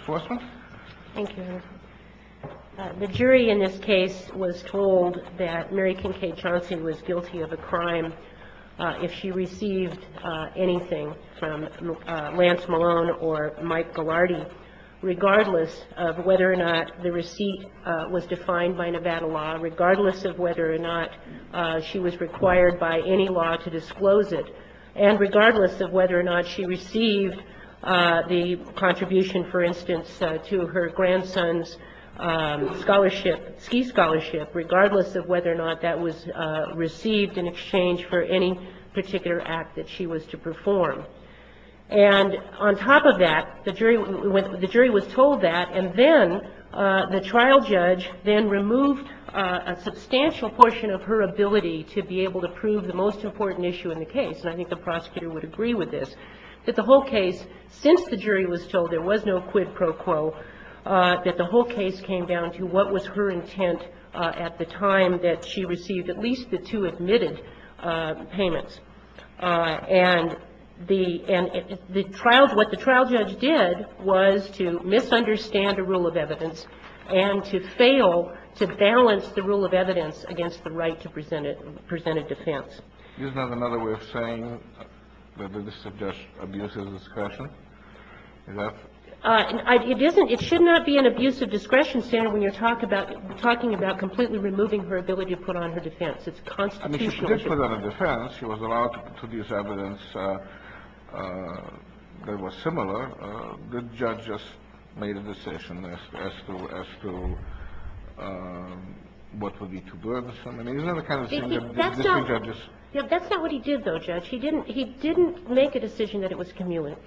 The jury in this case was told that Mary Kincaid-Chauncey was guilty of a crime if she received anything from Lance Malone or Mike Gillardy, regardless of whether or not the receipt was defined by Nevada law, regardless of whether or not she was required by any law to disclose it, and regardless of whether or not she received the contribution, for instance, to her grandson's scholarship, ski scholarship, regardless of whether or not that was received in exchange for any particular act that she was to perform. And on top of that, the jury was told that, and then the trial judge then removed a substantial portion of her ability to be able to prove the most important issue in the case. And I think the prosecutor would agree with this, that the whole case, since the jury was told there was no quid pro quo, that the whole case came down to what was her intent at the time that she received at least the two admitted payments. And the – and the trial – what the trial judge did was to misunderstand a rule of evidence and to fail to balance the rule of evidence against the right to present a defense. This is not another way of saying that this is just abusive discretion? Is that? It isn't. It should not be an abusive discretion, Senator, when you're talking about – talking about completely removing her ability to put on her defense. It's constitutional. I mean, she didn't put on a defense. She was allowed to produce evidence that was similar. The judge just made a decision as to – as to what would be too burdensome. I mean, isn't that the kind of thing that district judges – Yeah. That's not what he did, though, Judge. He didn't – he didn't make a decision that it was cumulative.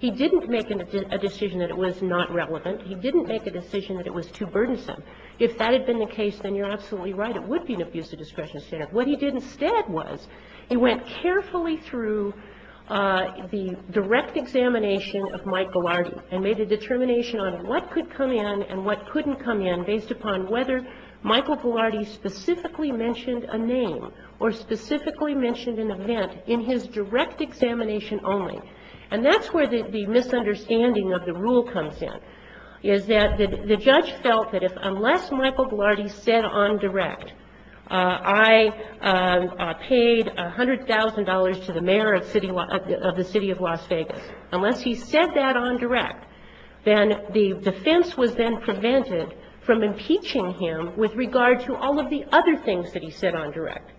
He didn't make a decision that it was not relevant. He didn't make a decision that it was too burdensome. If that had been the case, then you're absolutely right. It would be an abusive discretion, Senator. What he did instead was he went carefully through the direct examination of Mike Gillardy and made a determination on what could come in and what couldn't come in based upon whether Michael Gillardy specifically mentioned a name or specifically mentioned an event in his direct examination only. And that's where the misunderstanding of the rule comes in, is that the judge felt that if – unless Michael Gillardy said on direct, I paid $100,000 to the mayor of City – of the City of Las Vegas, unless he said that on direct, then the defense was then prevented from impeaching him with regard to all of the other things that he said on direct,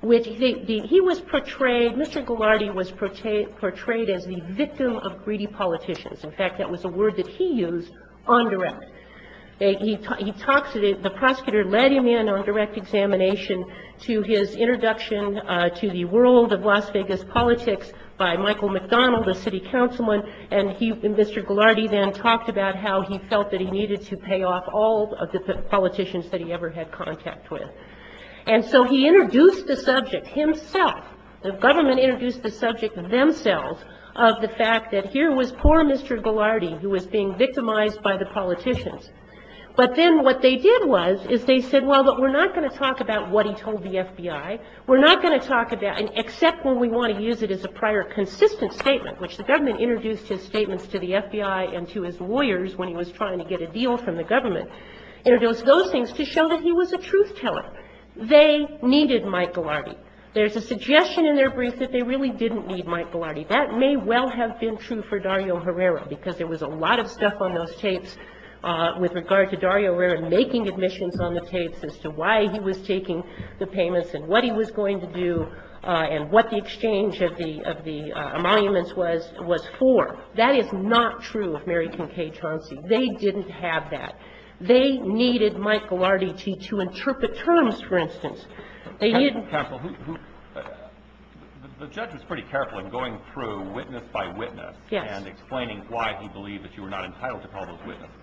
which he was portrayed – Mr. Gillardy was portrayed as the victim of greedy politicians. In fact, that was a word that he used, on direct. He talked to the – the prosecutor led him in on direct examination to his introduction to the world of Las Vegas politics by Michael McDonald, a city councilman, and he – and he paid off all of the politicians that he ever had contact with. And so he introduced the subject himself. The government introduced the subject themselves of the fact that here was poor Mr. Gillardy who was being victimized by the politicians. But then what they did was is they said, well, we're not going to talk about what he told the FBI. We're not going to talk about – except when we want to use it as a prior consistent statement, which the government introduced his statements to the FBI and to his lawyers when he was trying to get a deal from the government, introduced those things to show that he was a truth teller. They needed Mike Gillardy. There's a suggestion in their brief that they really didn't need Mike Gillardy. That may well have been true for Dario Herrera, because there was a lot of stuff on those tapes with regard to Dario Herrera making admissions on the tapes as to why he was taking the payments and what he was going to do and what the exchange of the – of the emoluments was – was for. That is not true of Mary Kincaid-Chauncey. They didn't have that. They needed Mike Gillardy to interpret terms, for instance. They didn't – The judge was pretty careful in going through witness by witness and explaining why he believed that you were not entitled to call those witnesses.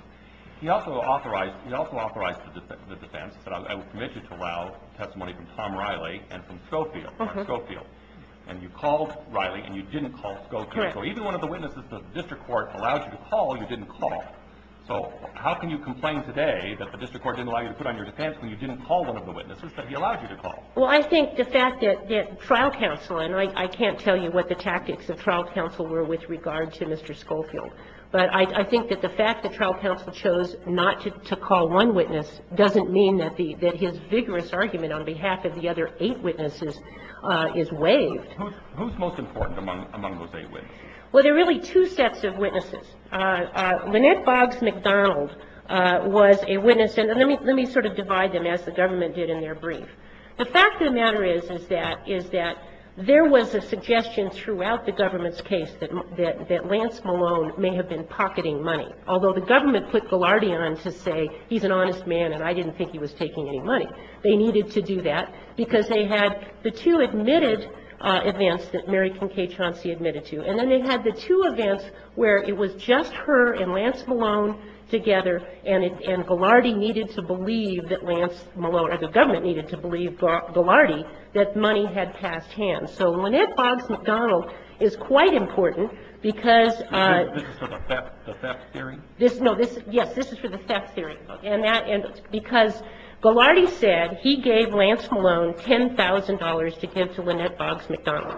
He also authorized – he also authorized the defense, said, I will permit you to allow testimony from Tom Riley and from Schofield, Mark Schofield. And you called Riley and you didn't call Schofield. Correct. So even one of the witnesses that the district court allowed you to call, you didn't call. So how can you complain today that the district court didn't allow you to put on your defense when you didn't call one of the witnesses that he allowed you to call? Well, I think the fact that – that trial counsel – and I can't tell you what the tactics of trial counsel were with regard to Mr. Schofield. But I think that the fact that trial counsel chose not to call one witness doesn't mean that the – that his vigorous argument on behalf of the other eight witnesses is waived. Who's most important among those eight witnesses? Well, there are really two sets of witnesses. Lynette Boggs McDonald was a witness. And let me – let me sort of divide them as the government did in their brief. The fact of the matter is, is that – is that there was a suggestion throughout the government's case that – that Lance Malone may have been pocketing money, although the government put Gillardian on to say he's an honest man and I didn't think he was taking any money. They needed to do that because they had the two admitted events that Mary Kincaid-Chauncey admitted to. And then they had the two events where it was just her and Lance Malone together and it – and Gillardian needed to believe that Lance Malone – or the government needed to believe Gillardian that money had passed him. So Lynette Boggs McDonald is quite important because – Is this for the theft theory? This – no, this – yes, this is for the theft theory. And that – and because Gillardian said he gave Lance Malone $10,000 to give to Lynette Boggs McDonald.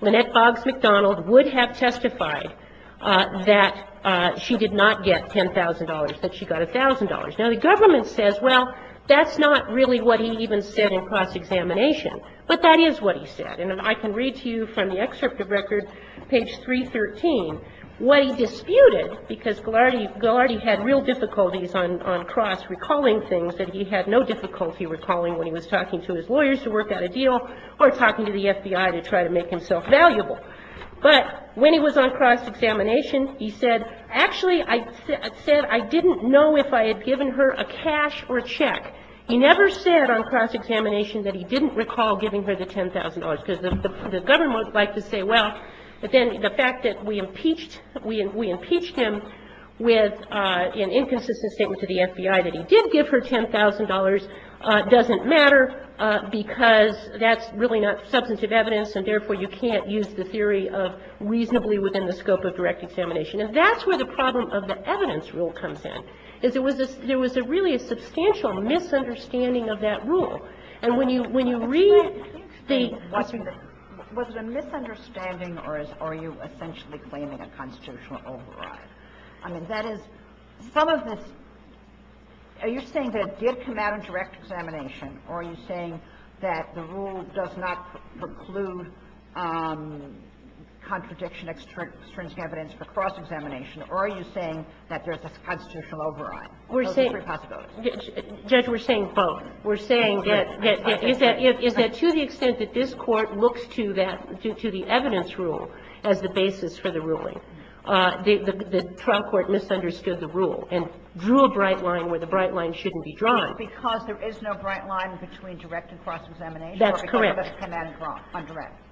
Lynette Boggs McDonald would have testified that she did not get $10,000, that she got $1,000. Now, the government says, well, that's not really what he even said in cross-examination, but that is what he said. And I can read to you from the excerpt of record, page 313, what he disputed because Gillardian – Gillardian had real difficulties on cross-recalling things that he had no difficulty recalling when he was talking to his lawyers to work out a deal or talking to the FBI to try to make himself valuable. But when he was on cross-examination, he said, actually, I said I didn't know if I had given her a cash or a check. He never said on cross-examination that he didn't recall giving her the $10,000 because the government would like to say, well, but then the fact that we impeached – we impeached him with an inconsistent statement to the FBI that he did give her $10,000 doesn't matter because that's really not substantive evidence, and therefore, you can't use the theory of reasonably within the scope of direct examination. And that's where the problem of the evidence rule comes in, is it was a – there was a really a substantial misunderstanding of that rule. And when you read the – Sotomayor, was it a misunderstanding, or are you essentially claiming a constitutional override? I mean, that is – some of this – are you saying that it did come out in direct examination, or are you saying that the rule does not preclude contradiction of extrinsic evidence for cross-examination, or are you saying that there's a constitutional override? Those are three possibilities. We're saying – Judge, we're saying both. We're saying that – is that to the extent that this Court looks to that – to the evidence rule as the basis for the ruling, the trial court misunderstood the rule and drew a bright line where the bright line shouldn't be drawn. Because there is no bright line between direct and cross-examination. That's correct. Or because of the command prompt on direct.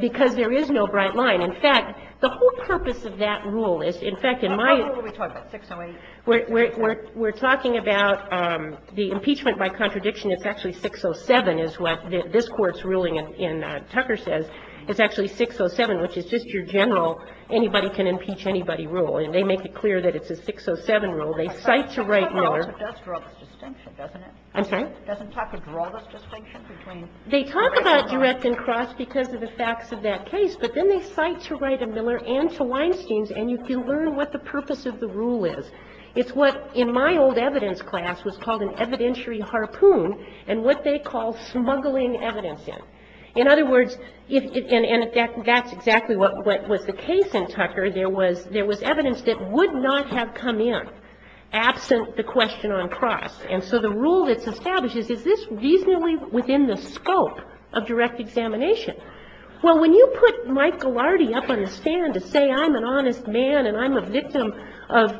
Because there is no bright line. In fact, the whole purpose of that rule is, in fact, in my – What rule are we talking about, 608? We're talking about the impeachment by contradiction. It's actually 607, is what this Court's ruling in Tucker says. It's actually 607, which is just your general anybody can impeach anybody rule. And they make it clear that it's a 607 rule. They cite to Wright and Miller. It does draw this distinction, doesn't it? I'm sorry? Doesn't talk of draw this distinction between direct and cross. They talk about direct and cross because of the facts of that case, but then they cite to Wright and Miller and to Weinstein's, and you can learn what the purpose of the rule is. It's what, in my old evidence class, was called an evidentiary harpoon and what they call smuggling evidence in. In other words, and that's exactly what was the case in Tucker. There was evidence that would not have come in absent the question on cross. And so the rule that's established is, is this reasonably within the scope of direct examination? Well, when you put Mike Ghilardi up on the stand to say I'm an honest man and I'm a victim of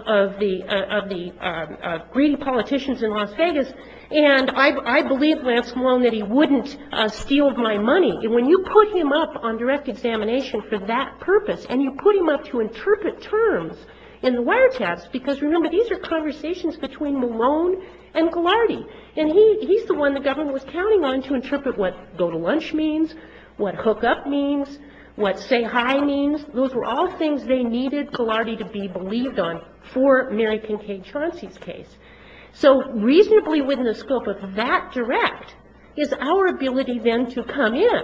the greedy politicians in Las Vegas, and I believe Lance Malone that he wouldn't steal my money. When you put him up on direct examination for that purpose and you put him up to interpret terms in the wiretaps, because remember, these are conversations between Malone and Ghilardi, and he's the one the government was counting on to interpret what go to lunch means, what hook up means, what say hi means. Those were all things they needed Ghilardi to be believed on for Mary Pincaid Chauncey's case. So reasonably within the scope of that direct is our ability then to come in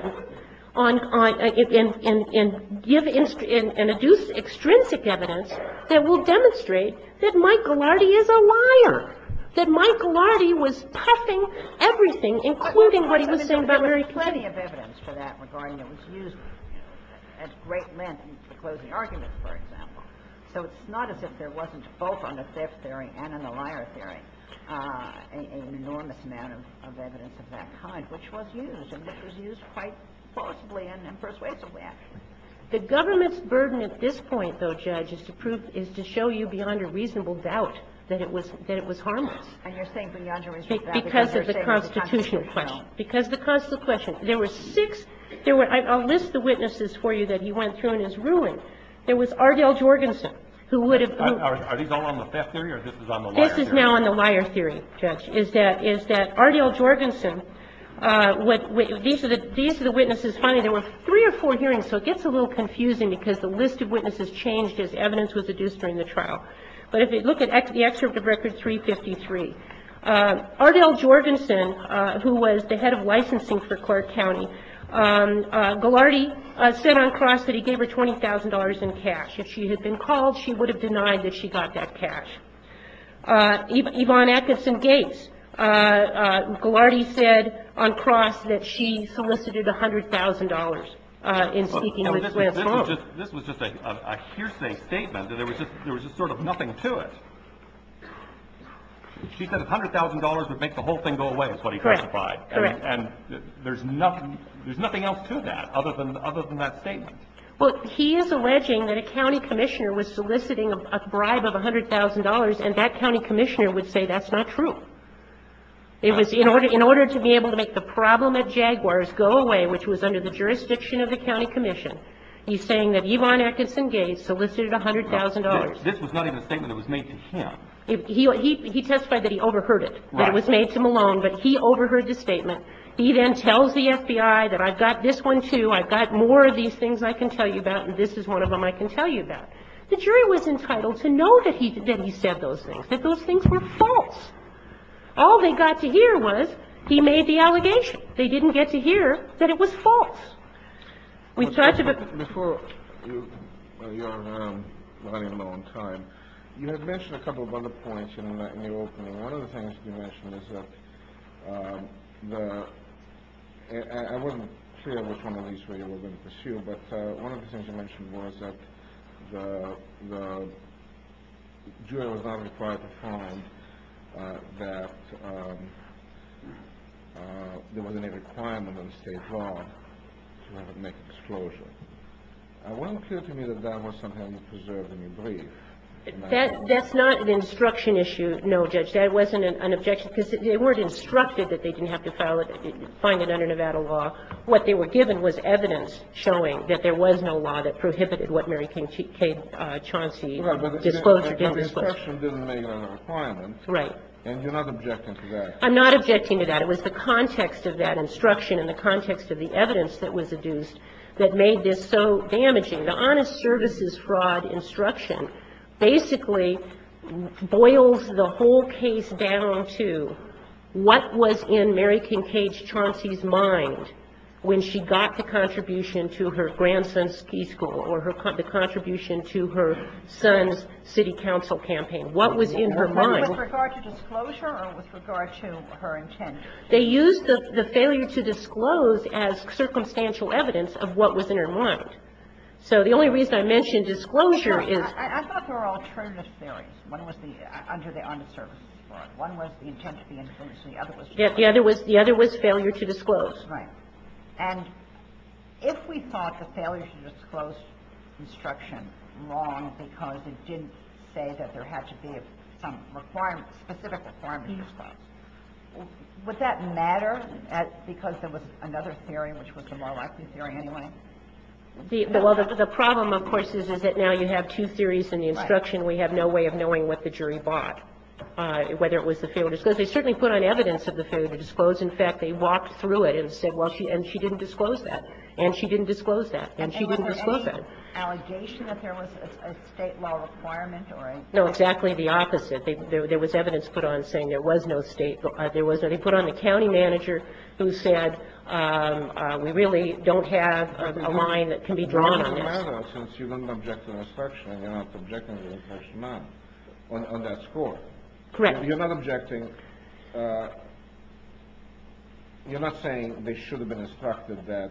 and give an extrinsic evidence that will demonstrate that Mike Ghilardi is a liar, that Mike Ghilardi was puffing everything, including what he was saying about Mary Pincaid. And there's plenty of evidence for that regarding it was used at great length in the closing argument, for example. So it's not as if there wasn't both on the theft theory and in the liar theory an enormous amount of evidence of that kind, which was used, and it was used quite plausibly and persuasively, actually. The government's burden at this point, though, Judge, is to prove to show you beyond a reasonable doubt that it was harmless. And you're saying beyond a reasonable doubt because you're saying it's constitutional question, because the constitutional question, there were six, there were, I'll list the witnesses for you that he went through in his ruling. There was Ardell Jorgensen, who would have moved. Are these all on the theft theory or this is on the liar theory? This is now on the liar theory, Judge, is that Ardell Jorgensen, these are the witnesses finding there were three or four hearings, so it gets a little confusing because the list of witnesses changed as evidence was adduced during the trial. But if you look at the excerpt of Record 353, Ardell Jorgensen, who was the witness who was the head of licensing for Clark County, Ghilardi said on cross that he gave her $20,000 in cash. If she had been called, she would have denied that she got that cash. Yvonne Atkinson Gates, Ghilardi said on cross that she solicited $100,000 in speaking with Slauson. This was just a hearsay statement, that there was just sort of nothing to it. She said $100,000 would make the whole thing go away is what he testified. Correct. And there's nothing else to that other than that statement. Well, he is alleging that a county commissioner was soliciting a bribe of $100,000 and that county commissioner would say that's not true. It was in order to be able to make the problem at Jaguars go away, which was under the jurisdiction of the county commission, he's saying that Yvonne Atkinson Gates solicited $100,000. This was not even a statement that was made to him. He testified that he overheard it, that it was made to Malone, but he overheard the statement. He then tells the FBI that I've got this one, too. I've got more of these things I can tell you about, and this is one of them I can tell you about. The jury was entitled to know that he said those things, that those things were false. All they got to hear was he made the allegation. They didn't get to hear that it was false. We've talked about the ---- Before you're running low on time, you had mentioned a couple of other points in the opening. One of the things you mentioned is that the ---- I wasn't clear which one of these were you were going to pursue, but one of the things you mentioned was that the jury was not required to find that there was any requirement in the State law to have it make an disclosure. It wasn't clear to me that that was something that was preserved in your brief. That's not an instruction issue, no, Judge. That wasn't an objection, because they weren't instructed that they didn't have to file it, find it under Nevada law. What they were given was evidence showing that there was no law that prohibited what Mary Kay Chauncey disclosed or didn't disclose. Right. But the instruction didn't make it under the requirement. Right. And you're not objecting to that. I'm not objecting to that. It was the context of that instruction and the context of the evidence that was adduced that made this so damaging. The Honest Services Fraud instruction basically boils the whole case down to what was in Mary Kincaid Chauncey's mind when she got the contribution to her grandson's ski school or the contribution to her son's city council campaign. What was in her mind? Was it with regard to disclosure or with regard to her intention? They used the failure to disclose as circumstantial evidence of what was in her mind. So the only reason I mentioned disclosure is the other was the other was failure to disclose. Right. And if we thought the failure to disclose instruction wrong because it didn't say that there had to be some requirement, specific requirement to disclose, would that matter because there was another theory which was the more likely theory anyway? Well, the problem, of course, is that now you have two theories in the instruction. We have no way of knowing what the jury bought, whether it was the failure to disclose. They certainly put on evidence of the failure to disclose. In fact, they walked through it and said, well, she didn't disclose that, and she didn't disclose that, and she didn't disclose that. And was there any allegation that there was a State law requirement or a state law? No, exactly the opposite. There was evidence put on saying there was no State law. So the only way to make sure that you have a line that can be drawn on this. It doesn't matter, since you don't object to an instruction and you're not objecting to an instruction on that score. Correct. You're not objecting, you're not saying they should have been instructed that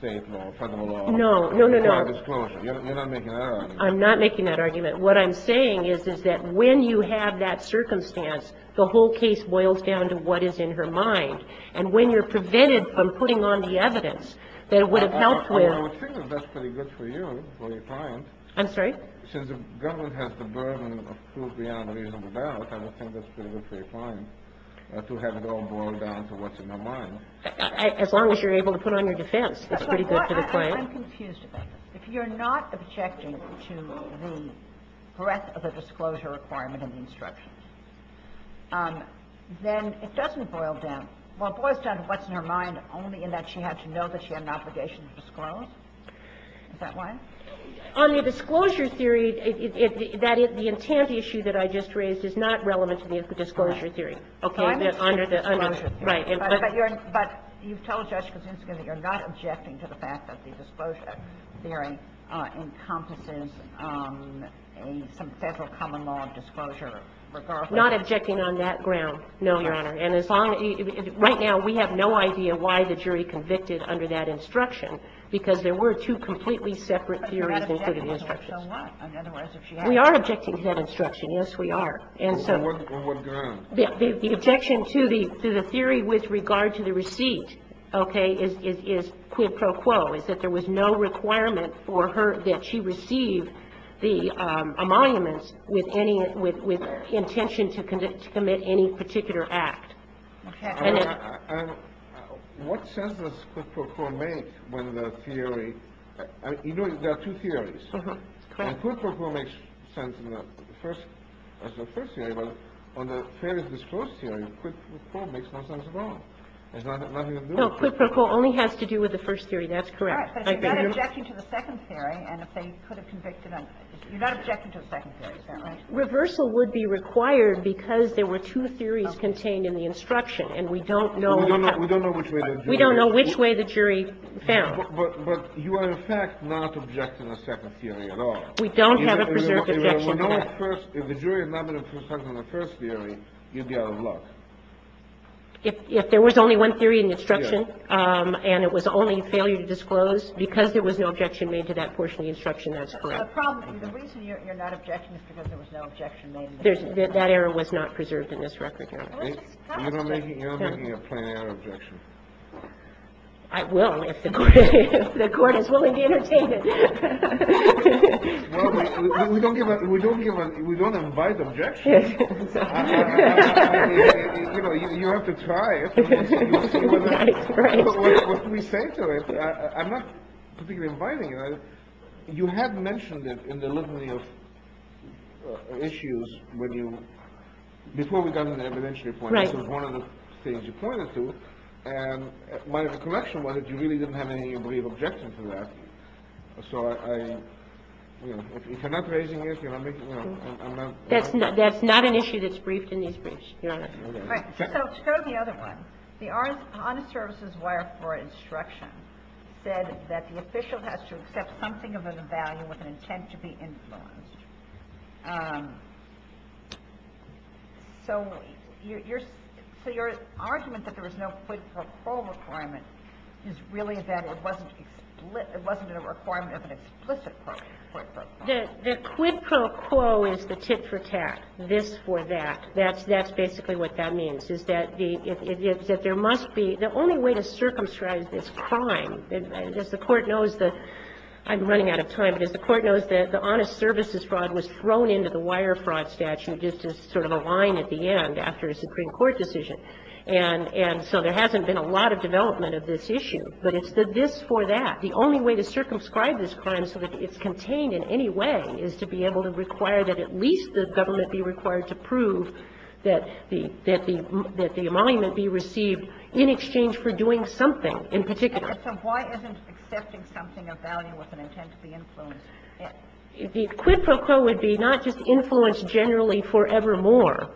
State law or Federal law required disclosure. No, no, no. You're not making that argument. I'm not making that argument. What I'm saying is, is that when you have that circumstance, the whole case boils down to what is in her mind. And when you're prevented from putting on the evidence that it would have helped with. And I would think that that's pretty good for you, for your client. I'm sorry? Since the government has the burden of proof beyond reasonable doubt, I would think that's pretty good for your client to have it all boiled down to what's in her mind. As long as you're able to put on your defense, that's pretty good for the client. I'm confused about that. If you're not objecting to the breadth of a disclosure requirement in the instructions, then it doesn't boil down. Well, it boils down to what's in her mind only in that she had to know that she had an obligation to disclose. Is that why? On the disclosure theory, that is, the intent issue that I just raised is not relevant to the disclosure theory. Okay. Under the under the. Right. But you've told Judge Kosinski that you're not objecting to the fact that the disclosure theory encompasses some Federal common law disclosure, regardless. Not objecting on that ground, no, Your Honor. And as long as you – right now, we have no idea why the jury convicted under that instruction, because there were two completely separate theories included in the instructions. But you're not objecting, so what? Otherwise, if she had to know. We are objecting to that instruction. Yes, we are. And so. On what ground? The objection to the theory with regard to the receipt, okay, is quo pro quo, is that there was no requirement for her that she receive the emoluments with any – with intention to commit any particular act. Okay. And what sense does quo pro quo make when the theory – I mean, you know, there are two theories. Uh-huh. Correct. And quo pro quo makes sense in the first – as the first theory, but on the Fairness Disclosed theory, quo pro quo makes no sense at all. There's nothing to do with it. No, quo pro quo only has to do with the first theory. That's correct. All right. But you're not objecting to the second theory, and if they could have convicted them, you're not objecting to the second theory, is that right? Reversal would be required because there were two theories contained in the instruction, and we don't know how. We don't know which way the jury found it. We don't know which way the jury found it. But you are, in fact, not objecting to the second theory at all. We don't have a preserved objection to that. If the jury is not going to present on the first theory, you'd be out of luck. If there was only one theory in the instruction and it was only failure to disclose because there was no objection made to that portion of the instruction, that's correct. The reason you're not objecting is because there was no objection made. That error was not preserved in this record. You're not making a plain error objection. I will if the Court is willing to entertain it. We don't give a – we don't give a – we don't invite objections. You know, you have to try it. What can we say to it? I'm not particularly inviting it. You had mentioned it in the litany of issues when you – before we got to the evidentiary point. This was one of the things you pointed to. And my recollection was that you really didn't have any objection to that. So I – if you're not raising it, you know, I'm not – that's not an issue that's briefed in these briefs, Your Honor. All right. So let's go to the other one. The honest services wire for instruction said that the official has to accept something of a value with an intent to be influenced. So your argument that there was no quid pro quo requirement is really that it wasn't a requirement of an explicit quid pro quo. The quid pro quo is the tit-for-tat, this for that. That's basically what that means, is that the – it's that there must be – the only way to circumscribe this crime, as the Court knows the – I'm running out of time. As the Court knows, the honest services fraud was thrown into the wire fraud statute just as sort of a line at the end after a Supreme Court decision. And so there hasn't been a lot of development of this issue. But it's the this for that. The only way to circumscribe this crime so that it's contained in any way is to be able to require that at least the government be required to prove that the – that the emolument be received in exchange for doing something in particular. So why isn't accepting something of value with an intent to be influenced? The quid pro quo would be not just influence generally forevermore.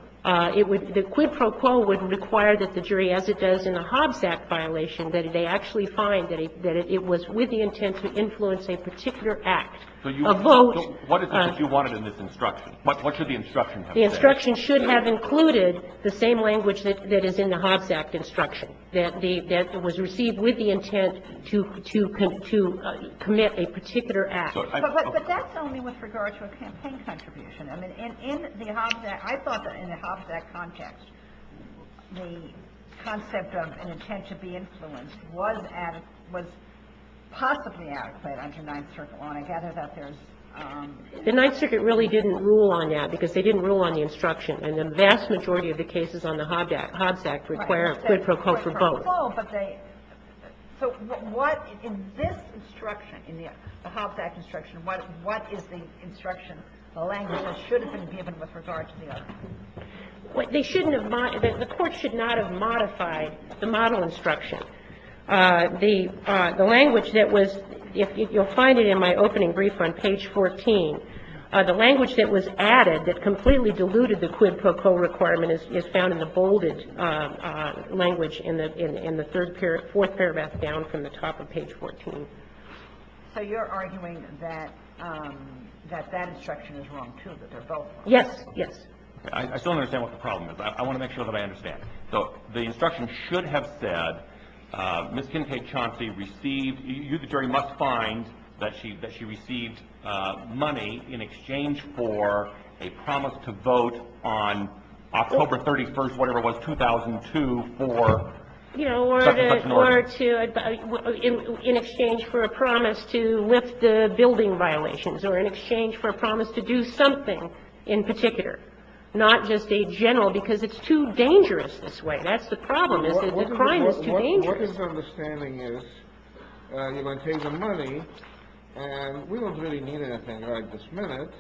It would – the quid pro quo would require that the jury, as it does in the Hobbs Act violation, that they actually find that it – that it was with the intent to influence a particular act. A vote. So what is it that you wanted in this instruction? What should the instruction have said? The instruction should have included the same language that is in the Hobbs Act instruction, that the – that was received with the intent to commit a particular act. But that's only with regard to a campaign contribution. I mean, in the Hobbs Act – I thought that in the Hobbs Act context, the concept of an intent to be influenced was – was possibly adequate under Ninth Circuit. And I gather that there's – The Ninth Circuit really didn't rule on that because they didn't rule on the instruction. And the vast majority of the cases on the Hobbs Act require a quid pro quo for both. Right. It's a quid pro quo, but they – so what in this instruction, in the Hobbs Act instruction, what is the instruction, the language that should have been given with regard to the other? They shouldn't have – the Court should not have modified the model instruction. The language that was – you'll find it in my opening brief on page 14. The language that was added that completely diluted the quid pro quo requirement is found in the bolded language in the third – fourth paragraph down from the top of page 14. So you're arguing that that instruction is wrong, too, that they're both – Yes. Yes. I still don't understand what the problem is. I want to make sure that I understand. So the instruction should have said, Ms. Kincaid Chauncey received – you, the jury, must find that she received money in exchange for a promise to vote on October 31st, whatever it was, 2002, for – You know, or to – in exchange for a promise to lift the building violations or in exchange for a promise to do something in particular, not just a general because it's too dangerous this way. That's the problem is that the crime is too dangerous. What is the understanding is you're going to take the money, and we don't really need anything right this minute,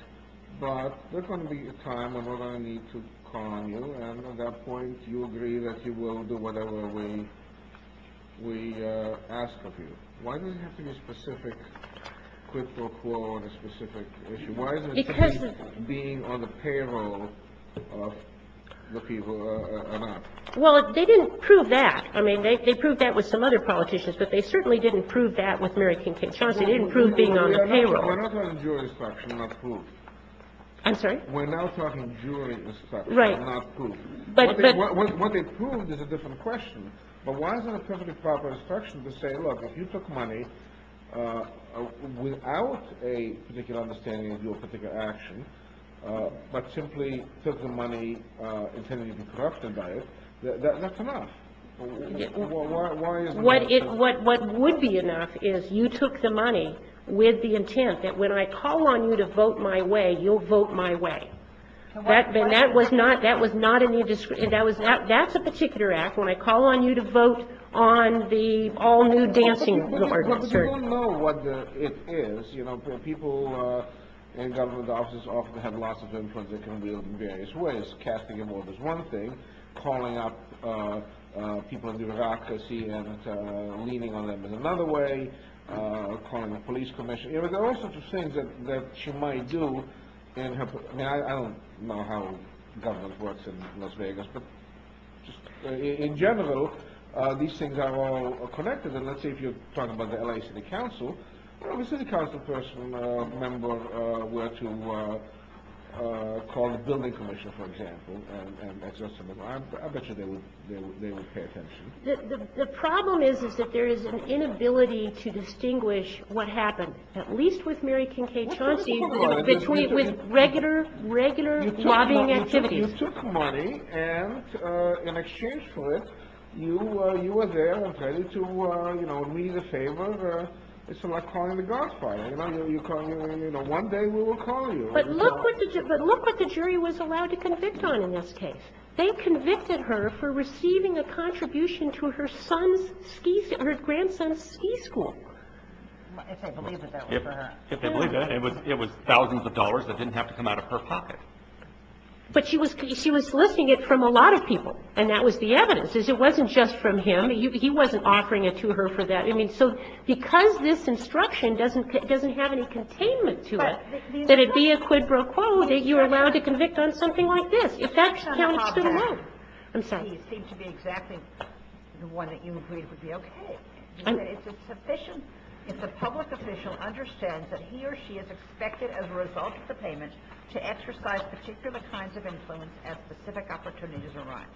but there's going to be a time when we're going to need to call on you, and at that point, you agree that you will do whatever we ask of you. Why does it have to be a specific quid pro quo on a specific issue? Why is it being on the payroll of the people or not? Well, they didn't prove that. I mean, they proved that with some other politicians, but they certainly didn't prove that with Mary Kincaid Chauncey. They didn't prove being on the payroll. We're not talking jury instruction, not proof. I'm sorry? We're now talking jury instruction, not proof. What they proved is a different question, but why is it a primitive proper instruction to say, look, if you took money without a particular understanding of your particular action, but simply took the money intending to be corrupted by it, that's enough. Why is that? What would be enough is you took the money with the intent that when I call on you to vote my way, you'll vote my way. And that was not in the indiscretion. That's a particular act. When I call on you to vote on the all-new dancing board. You don't know what it is. You know, people in government offices often have lots of influence. They can be of various ways. Casting a vote is one thing. Calling up people in the bureaucracy and leaning on them in another way. Calling the police commission. There are all sorts of things that she might do. I don't know how government works in Las Vegas, but in general, these things are all connected. And let's say if you're talking about the L.A. City Council, if a City Council member were to call the building commission, for example, I bet you they would pay attention. The problem is that there is an inability to distinguish what happened, at least with Mary Kincaid Chauncey, with regular lobbying activities. You took money, and in exchange for it, you were there and ready to, you know, read a favor. It's like calling the Godfather. You know, one day we will call you. But look what the jury was allowed to convict on in this case. They convicted her for receiving a contribution to her grandson's ski school. If they believe that that was for her. If they believe that, it was thousands of dollars that didn't have to come out of her pocket. But she was listing it from a lot of people, and that was the evidence, is it wasn't just from him. He wasn't offering it to her for that. I mean, so because this instruction doesn't have any containment to it, that it be a quid pro quo that you're allowed to convict on something like this. If that counts too low. I'm sorry. It seems to be exactly the one that you agreed would be okay. It's sufficient if the public official understands that he or she is expected, as a result of the payment, to exercise particular kinds of influence as specific opportunities arise.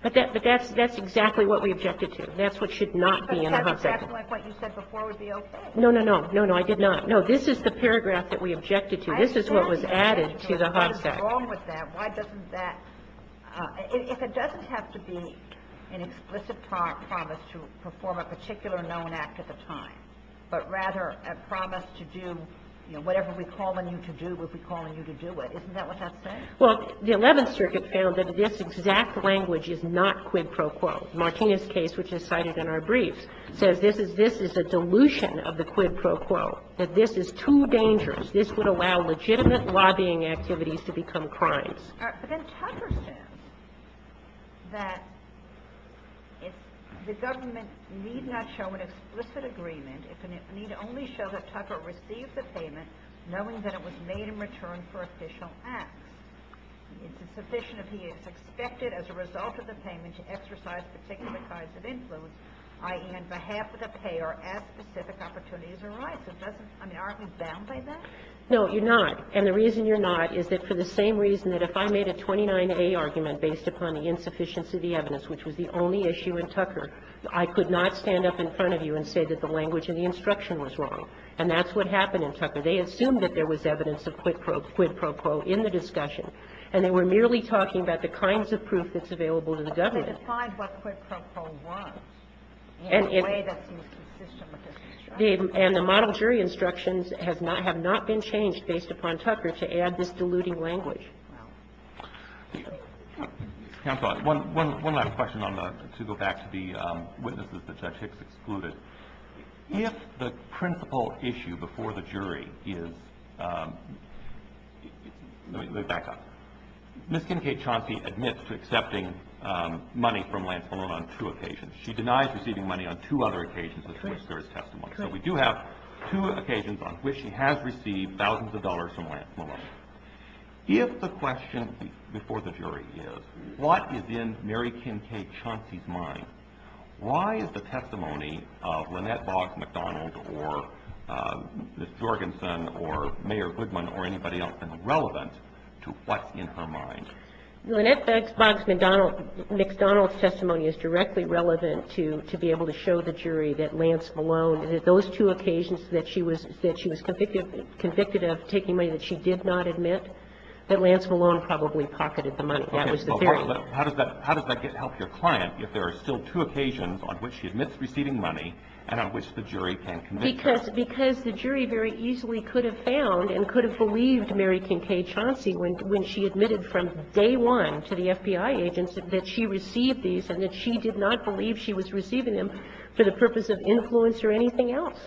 But that's exactly what we objected to. That's what should not be in the HUD section. But it doesn't sound like what you said before would be okay. No, no, no. No, no, I did not. No, this is the paragraph that we objected to. This is what was added to the HUD section. What's wrong with that? Why doesn't that, if it doesn't have to be an explicit promise to perform a particular known act at the time, but rather a promise to do, you know, whatever we call on you to do, we'll be calling you to do it. Isn't that what that says? Well, the Eleventh Circuit found that this exact language is not quid pro quo. Martinez's case, which is cited in our briefs, says this is a dilution of the quid pro quo, that this is too dangerous. This would allow legitimate lobbying activities to become crimes. But then Tucker says that the government need not show an explicit agreement if it need only show that Tucker received the payment knowing that it was made in return for official acts. It's sufficient if he is expected as a result of the payment to exercise particular kinds of influence, i.e., on behalf of the payer, as specific opportunities arise. It doesn't – I mean, aren't we bound by that? No, you're not. And the reason you're not is that for the same reason that if I made a 29A argument based upon the insufficiency of the evidence, which was the only issue in Tucker, I could not stand up in front of you and say that the language in the instruction was wrong. And that's what happened in Tucker. They assumed that there was evidence of quid pro quo in the discussion, and they were merely talking about the kinds of proof that's available to the government. But they defied what quid pro quo was in a way that seems consistent with this instruction. And the model jury instructions have not been changed based upon Tucker to add this diluting language. Counsel, one last question to go back to the witnesses that Judge Hicks excluded. If the principal issue before the jury is – let me back up. Ms. Kincaid-Chauncey admits to accepting money from Lance Malone on two occasions. She denies receiving money on two other occasions in which there is testimony. So we do have two occasions on which she has received thousands of dollars from Lance Malone. If the question before the jury is what is in Mary Kincaid-Chauncey's mind, why is the testimony of Lynette Boggs McDonald or Ms. Jorgensen or Mayor Goodman or anybody else been relevant to what's in her mind? Lynette Boggs McDonald's testimony is directly relevant to be able to show the jury that Lance Malone, those two occasions that she was convicted of taking money that she did not admit, that Lance Malone probably pocketed the money. That was the theory. Well, how does that help your client if there are still two occasions on which she admits receiving money and on which the jury can convince her? Because the jury very easily could have found and could have believed Mary Kincaid-Chauncey when she admitted from day one to the FBI agents that she received these and that she did not believe she was receiving them for the purpose of influence or anything else.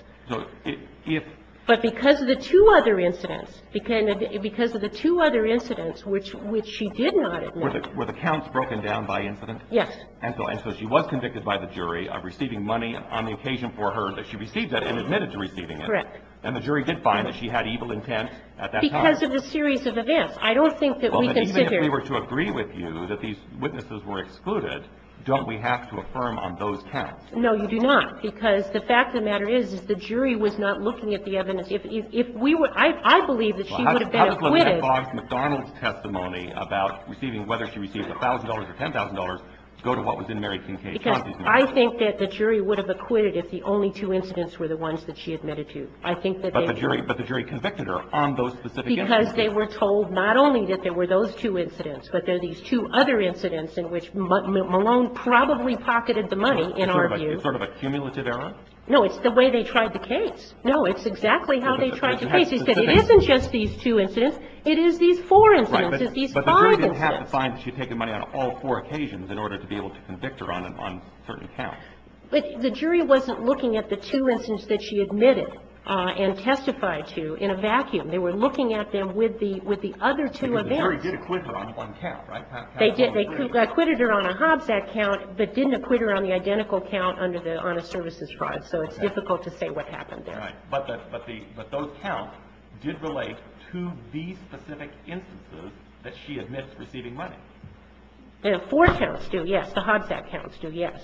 But because of the two other incidents, because of the two other incidents which she did not admit. Were the counts broken down by incident? Yes. And so she was convicted by the jury of receiving money on the occasion for her that she received it and admitted to receiving it. Correct. And the jury did find that she had evil intent at that time. Because of the series of events. I don't think that we can sit here. If the jury were to agree with you that these witnesses were excluded, don't we have to affirm on those counts? No, you do not. Because the fact of the matter is, is the jury was not looking at the evidence. If we were – I believe that she would have been acquitted. Well, how does the McFarland-McDonald's testimony about receiving – whether she received $1,000 or $10,000 go to what was in Mary Kincaid-Chauncey's mail? Because I think that the jury would have acquitted if the only two incidents were the ones that she admitted to. I think that they would have. But the jury convicted her on those specific incidents. Because they were told not only that there were those two incidents, but there are these two other incidents in which Malone probably pocketed the money, in our view. Sort of a cumulative error? No, it's the way they tried the case. No, it's exactly how they tried the case. Because it isn't just these two incidents. It is these four incidents. It's these five incidents. But the jury didn't have to find that she had taken money on all four occasions in order to be able to convict her on certain counts. But the jury wasn't looking at the two incidents that she admitted and testified to in a vacuum. They were looking at them with the other two events. Because the jury did acquit her on one count, right? They did. They acquitted her on a Hobsack count, but didn't acquit her on the identical count on a services fraud. So it's difficult to say what happened there. Right. But those counts did relate to these specific instances that she admits receiving money. The four counts do, yes. The Hobsack counts do, yes.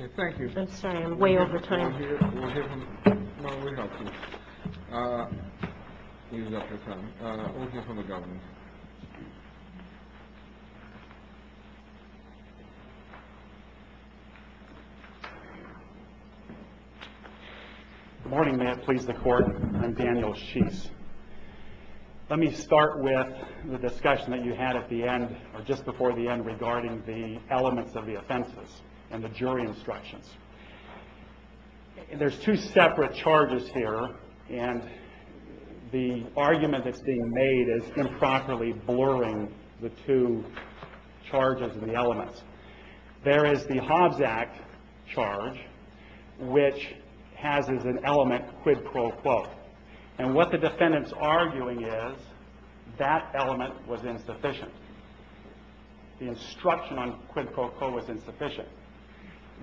Okay. Thank you. I'm sorry. I'm way over time. We'll hear from the government. Good morning. May it please the court. I'm Daniel Sheese. Let me start with the discussion that you had at the end, or just before the end, regarding the elements of the offenses and the jury instructions. There's two separate charges here, and the argument that's being made is improperly blurring the two charges and the elements. There is the Hobsack charge, which has as an element quid pro quo. And what the defendant's arguing is that element was insufficient. The instruction on quid pro quo was insufficient.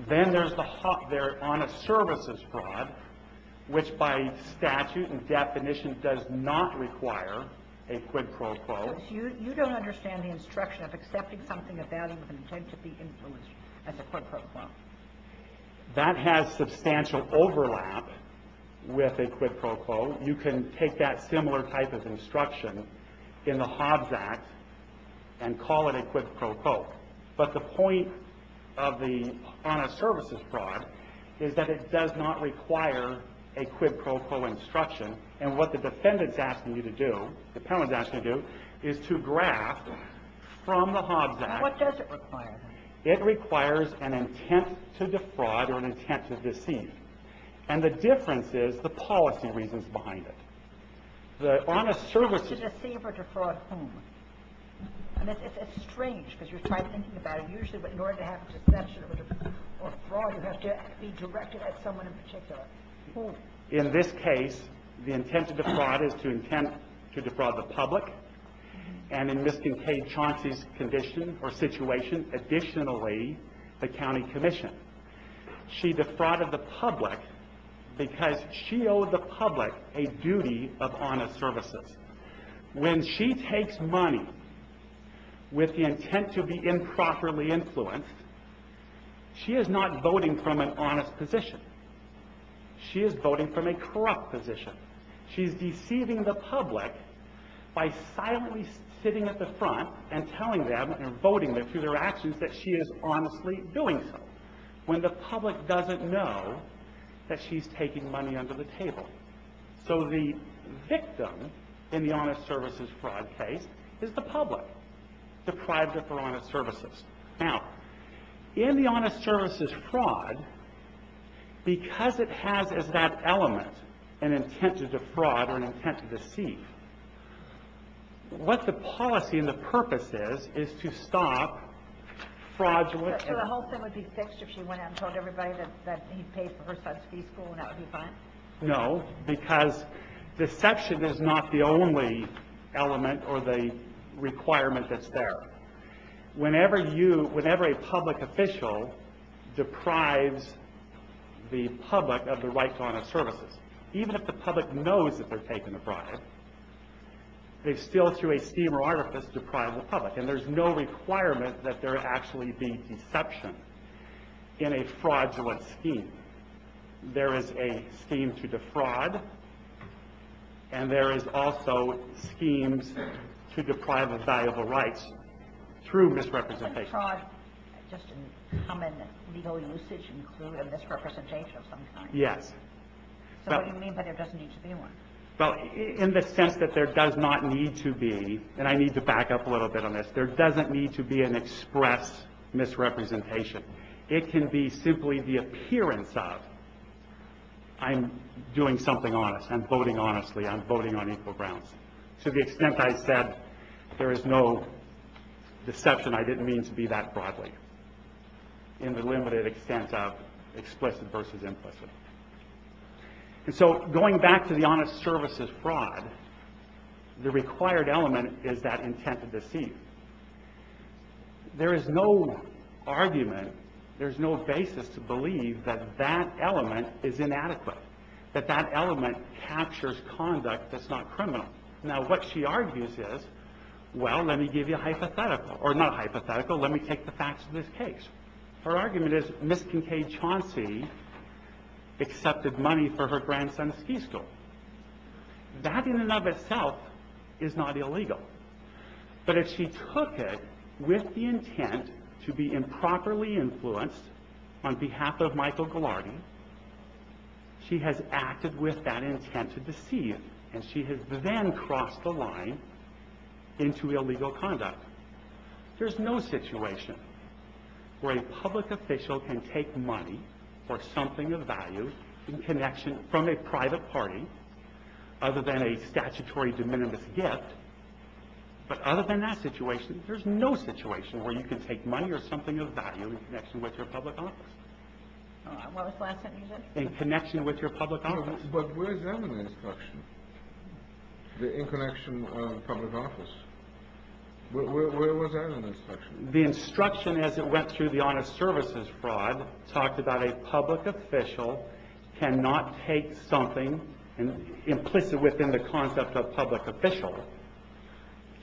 Then there's the Hobsack on a services fraud, which by statute and definition does not require a quid pro quo. You don't understand the instruction of accepting something of value with an intent to be influenced as a quid pro quo. That has substantial overlap with a quid pro quo. You can take that similar type of instruction in the Hobsack and call it a quid pro quo. But the point of the on a services fraud is that it does not require a quid pro quo instruction. And what the defendant's asking you to do, the panel is asking you to do, is to graph from the Hobsack. Now, what does it require? It requires an intent to defraud or an intent to deceive. And the difference is the policy reasons behind it. The on a services... Intent to deceive or defraud whom? And it's strange because you're trying to think about it usually, but in order to have a defection or fraud, you have to be directed at someone in particular. Who? In this case, the intent to defraud is to intent to defraud the public. And in Ms. Kincaid-Chauncey's condition or situation, additionally, the county commission. She defrauded the public because she owed the public a duty of on a services. When she takes money with the intent to be improperly influenced, she is not voting from an honest position. She is voting from a corrupt position. She's deceiving the public by silently sitting at the front and telling them and voting them through their actions that she is honestly doing so. When the public doesn't know that she's taking money under the table. So the victim in the honest services fraud case is the public. Deprived of their honest services. Now, in the honest services fraud, because it has as that element an intent to defraud or an intent to deceive, what the policy and the purpose is is to stop fraudulent... So the whole thing would be fixed if she went out and told everybody that he paid for her son's preschool and that would be fine? No, because deception is not the only element or the requirement that's there. Whenever a public official deprives the public of the right to honest services, even if the public knows that they're taking the product, they still, through a scheme or artifice, deprive the public. And there's no requirement that there actually be deception in a fraudulent scheme. There is a scheme to defraud. And there is also schemes to deprive of valuable rights through misrepresentation. Fraud, just in common legal usage, include a misrepresentation of some kind? Yes. So what you mean by there doesn't need to be one? Well, in the sense that there does not need to be, and I need to back up a little bit on this, there doesn't need to be an express misrepresentation. It can be simply the appearance of, I'm doing something honest, I'm voting honestly, I'm voting on equal grounds. To the extent I said there is no deception, I didn't mean to be that broadly. In the limited extent of explicit versus implicit. And so going back to the honest services fraud, the required element is that intent to deceive. There is no argument, there is no basis to believe that that element is inadequate. That that element captures conduct that's not criminal. Now what she argues is, well, let me give you a hypothetical. Or not hypothetical, let me take the facts of this case. Her argument is Ms. Kincaid Chauncey accepted money for her grandson's ski school. That in and of itself is not illegal. But if she took it with the intent to be improperly influenced on behalf of Michael Goularty, she has acted with that intent to deceive. And she has then crossed the line into illegal conduct. There's no situation where a public official can take money for something of value in connection from a private party other than a statutory de minimis gift But other than that situation, there's no situation where you can take money or something of value in connection with your public office. What was the last sentence? In connection with your public office. But where's that in the instruction? The in connection of public office. Where was that in the instruction? The instruction as it went through the honest services fraud talked about a public official cannot take something implicit within the concept of public official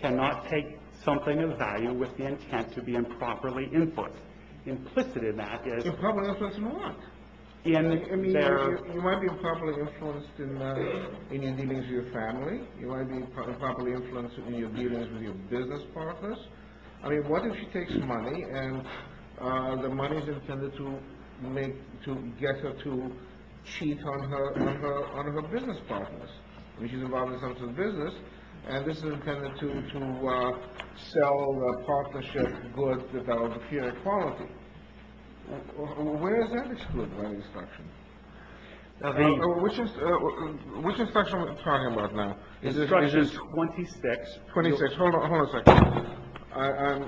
cannot take something of value with the intent to be improperly influenced. Implicit in that is... Improperly influenced in what? You might be improperly influenced in your dealings with your family. You might be improperly influenced in your dealings with your business partners. I mean, what if she takes money and the money's intended to get her to cheat on her business partners? I mean, she's involved in some sort of business, and this is intended to sell a partnership good without impure quality. Where is that excluded by the instruction? Which instruction are we talking about now? Instruction 26. 26. Hold on a second.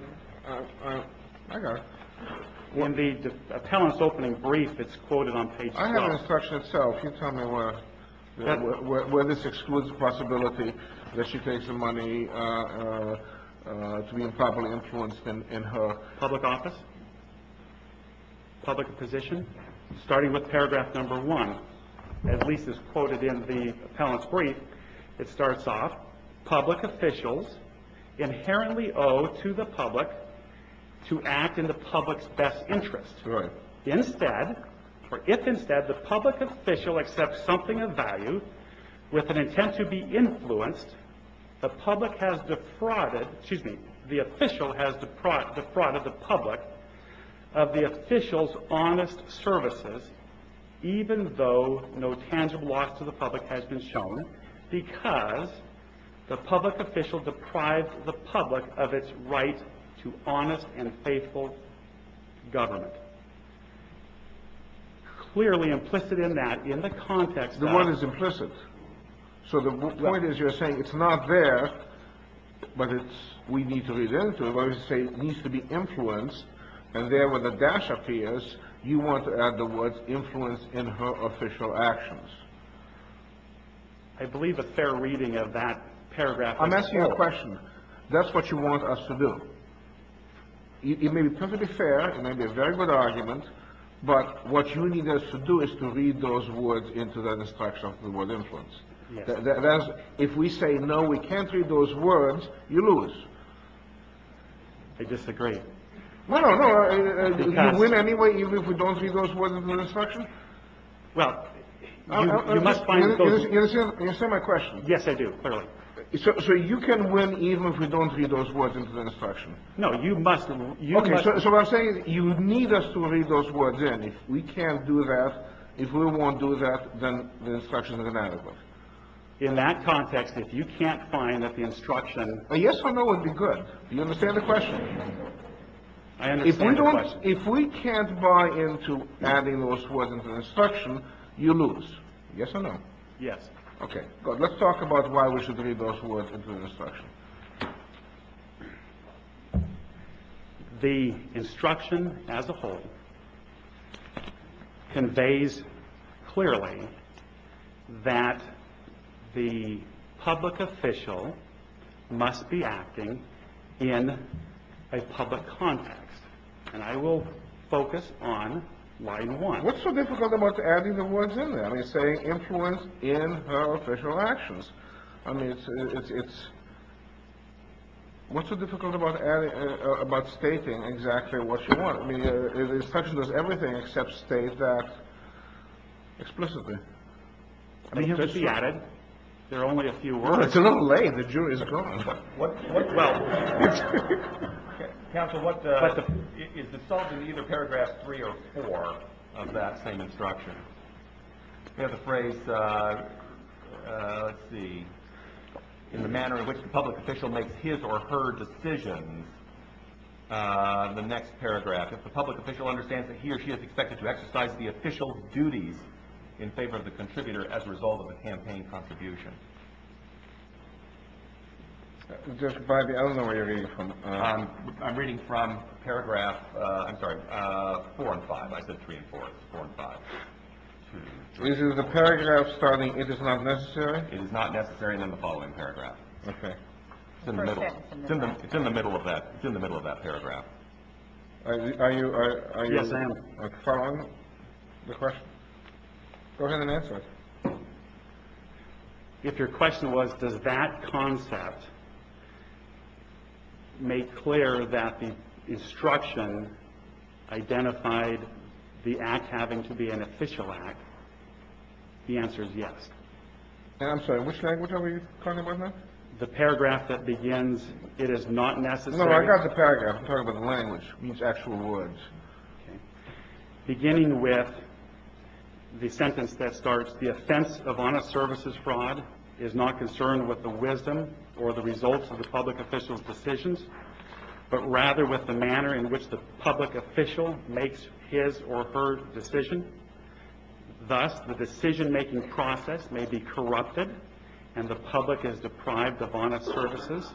I got it. When the appellant's opening brief, it's quoted on page 12. I have the instruction itself. Can you tell me where this excludes the possibility that she takes the money to be improperly influenced in her... Public office? Public position? At least it's quoted in the appellant's brief. It starts off, public officials inherently owe to the public to act in the public's best interest. Right. Instead, or if instead, the public official accepts something of value with an intent to be influenced, the public has defrauded... Excuse me. The official has defrauded the public of the official's honest services, even though no tangible loss to the public has been shown, because the public official deprived the public of its right to honest and faithful government. Clearly implicit in that, in the context of... The one is implicit. So the point is you're saying it's not there, but it's... We need to read into it, but we say it needs to be influenced, and there where the dash appears, you want to add the words influence in her official actions. I believe a fair reading of that paragraph... I'm asking you a question. That's what you want us to do. It may be perfectly fair, it may be a very good argument, but what you need us to do is to read those words into that instruction with word influence. If we say no, we can't read those words, you lose. I disagree. No, no, no. You win anyway even if we don't read those words into the instruction? Well, you must find... You understand my question? Yes, I do, clearly. So you can win even if we don't read those words into the instruction? No, you must... Okay, so what I'm saying is you need us to read those words in. If we can't do that, if we won't do that, then the instruction is inadequate. In that context, if you can't find that the instruction... A yes or no would be good. Do you understand the question? I understand the question. If we can't buy into adding those words into the instruction, you lose. Yes or no? Yes. Okay, good. Let's talk about why we should read those words into the instruction. The instruction as a whole conveys clearly that the public official must be acting in a public context. And I will focus on why you won. What's so difficult about adding the words in there? I mean, it's saying influence in her official actions. I mean, it's... What's so difficult about stating exactly what you want? I mean, the instruction does everything except state that explicitly. I mean, it could be added. There are only a few words. It's a little lame. The jury's gone. Well, counsel, is this solved in either paragraph three or four of that same instruction? We have the phrase, let's see, in the manner in which the public official makes his or her decision, the next paragraph, if the public official understands that he or she is expected to exercise the official duties in favor of the contributor as a result of a campaign contribution. I don't know where you're reading from. I'm reading from paragraph four and five. I said three and four. It's four and five. Is the paragraph starting, it is not necessary? It is not necessary in the following paragraph. Okay. It's in the middle. It's in the middle of that paragraph. Are you following the question? Go ahead and answer it. If your question was, does that concept make clear that the instruction identified the act having to be an official act? The answer is yes. And I'm sorry, which language are we talking about now? The paragraph that begins, it is not necessary. No, I got the paragraph. I'm talking about the language. It means actual words. Beginning with the sentence that starts, the offense of honest services fraud is not concerned with the wisdom or the results of the public official's decisions, but rather with the manner in which the public official makes his or her decision. Thus, the decision-making process may be corrupted and the public is deprived of honest services,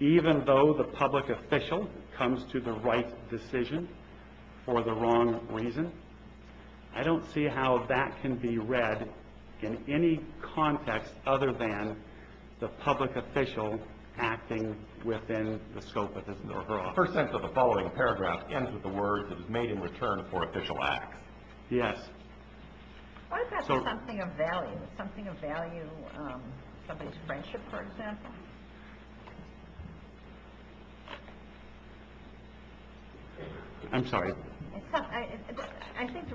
even though the public official comes to the right decision for the wrong reason. I don't see how that can be read in any context other than the public official acting within the scope of his or her office. The first sentence of the following paragraph ends with the word that is made in return for official act. Yes. What about something of value? Something of value, somebody's friendship, for example? I'm sorry. I think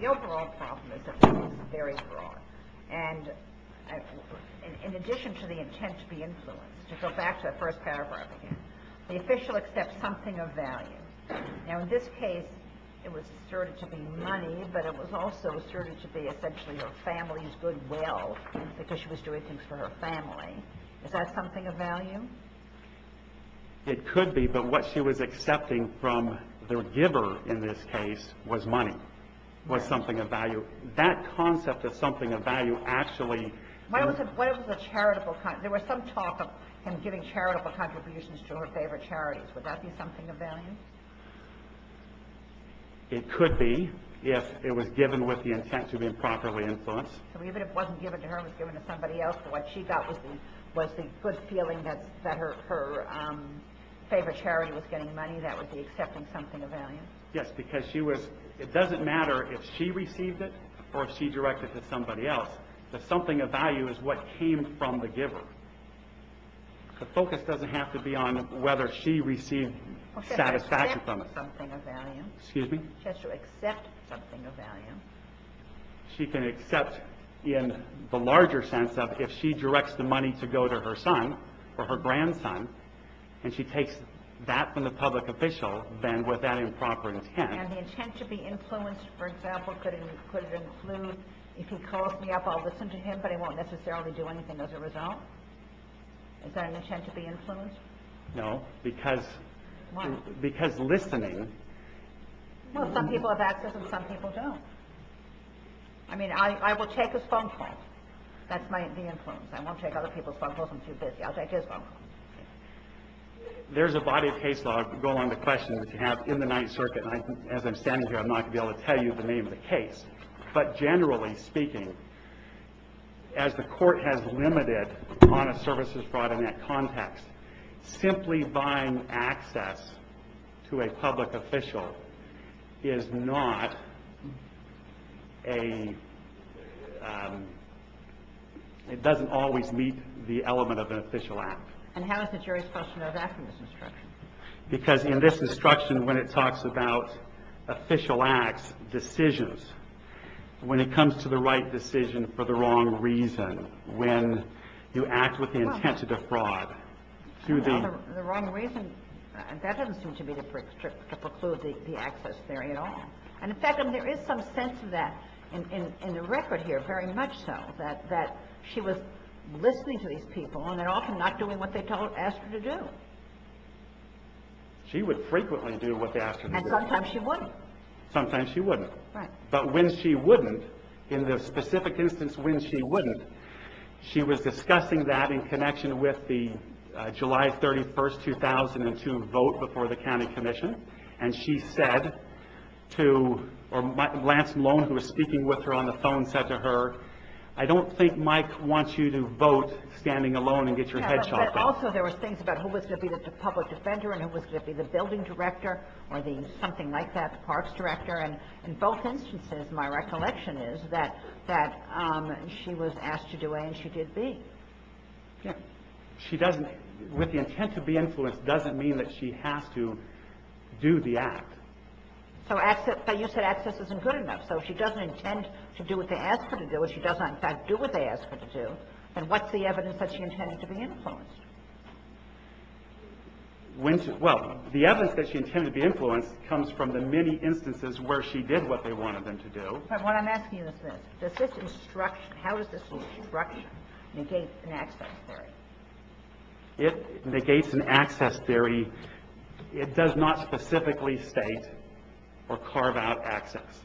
the overall problem is that this is very broad, and in addition to the intent to be influenced, to go back to the first paragraph again, the official accepts something of value. Now, in this case, it was asserted to be money, but it was also asserted to be essentially her family's goodwill because she was doing things for her family. Is that something of value? It could be, but what she was accepting from the giver in this case was money, was something of value. That concept of something of value actually – What if it was a charitable – there was some talk of him giving charitable contributions to her favorite charities. Would that be something of value? It could be if it was given with the intent to be improperly influenced. So even if it wasn't given to her, it was given to somebody else, what she got was the good feeling that her favorite charity was getting money. That would be accepting something of value. Yes, because she was – it doesn't matter if she received it or if she directed it to somebody else. The something of value is what came from the giver. The focus doesn't have to be on whether she received satisfaction from it. She has to accept something of value. Excuse me? She has to accept something of value. She can accept in the larger sense of if she directs the money to go to her son or her grandson, and she takes that from the public official, then with that improper intent – And the intent to be influenced, for example, could it include, if he calls me up, I'll listen to him, but I won't necessarily do anything as a result? Is that an intent to be influenced? No, because listening – Well, some people have access and some people don't. I mean, I will take his phone calls. That's the influence. I won't take other people's phone calls. I'm too busy. I'll take his phone calls. There's a body of case law going on the question that you have in the Ninth Circuit, and as I'm standing here, I'm not going to be able to tell you the name of the case. But generally speaking, as the Court has limited honest services fraud in that context, simply buying access to a public official is not a – it doesn't always meet the element of an official act. And how is the jury's question of asking this instruction? Because in this instruction, when it talks about official acts, decisions, when it comes to the right decision for the wrong reason, when you act with the intent to defraud, to the – Well, the wrong reason, that doesn't seem to be to preclude the access there at all. And, in fact, there is some sense of that in the record here, very much so, that she was listening to these people, and they're often not doing what they asked her to do. She would frequently do what they asked her to do. And sometimes she wouldn't. Sometimes she wouldn't. Right. But when she wouldn't, in the specific instance when she wouldn't, she was discussing that in connection with the July 31, 2002 vote before the county commission, and she said to – or Lance Lone, who was speaking with her on the phone, said to her, I don't think Mike wants you to vote standing alone and get your head chopped off. Yeah, but also there was things about who was going to be the public defender and who was going to be the building director or the something like that, the parks director. And in both instances, my recollection is that she was asked to do A and she did B. Yeah. She doesn't – with the intent to be influenced doesn't mean that she has to do the act. So access – but you said access isn't good enough. So if she doesn't intend to do what they ask her to do, if she doesn't in fact do what they ask her to do, then what's the evidence that she intended to be influenced? Well, the evidence that she intended to be influenced comes from the many instances where she did what they wanted them to do. But what I'm asking is this. Does this instruction – how does this instruction negate an access theory? If it negates an access theory, it does not specifically state or carve out access.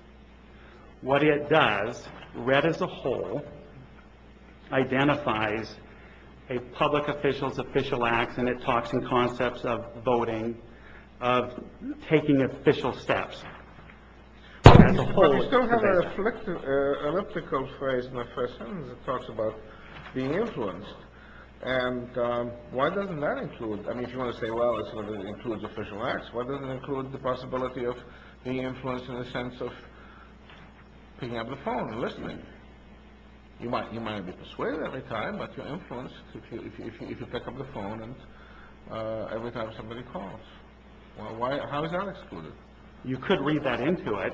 What it does, read as a whole, identifies a public official's official acts and it talks in concepts of voting, of taking official steps. But you still have an elliptical phrase in the first sentence that talks about being influenced. And why doesn't that include – I mean, if you want to say, well, it includes official acts, why doesn't it include the possibility of being influenced in the sense of picking up the phone and listening? You might be persuaded every time, but you're influenced if you pick up the phone and every time somebody calls. How is that excluded? You could read that into it.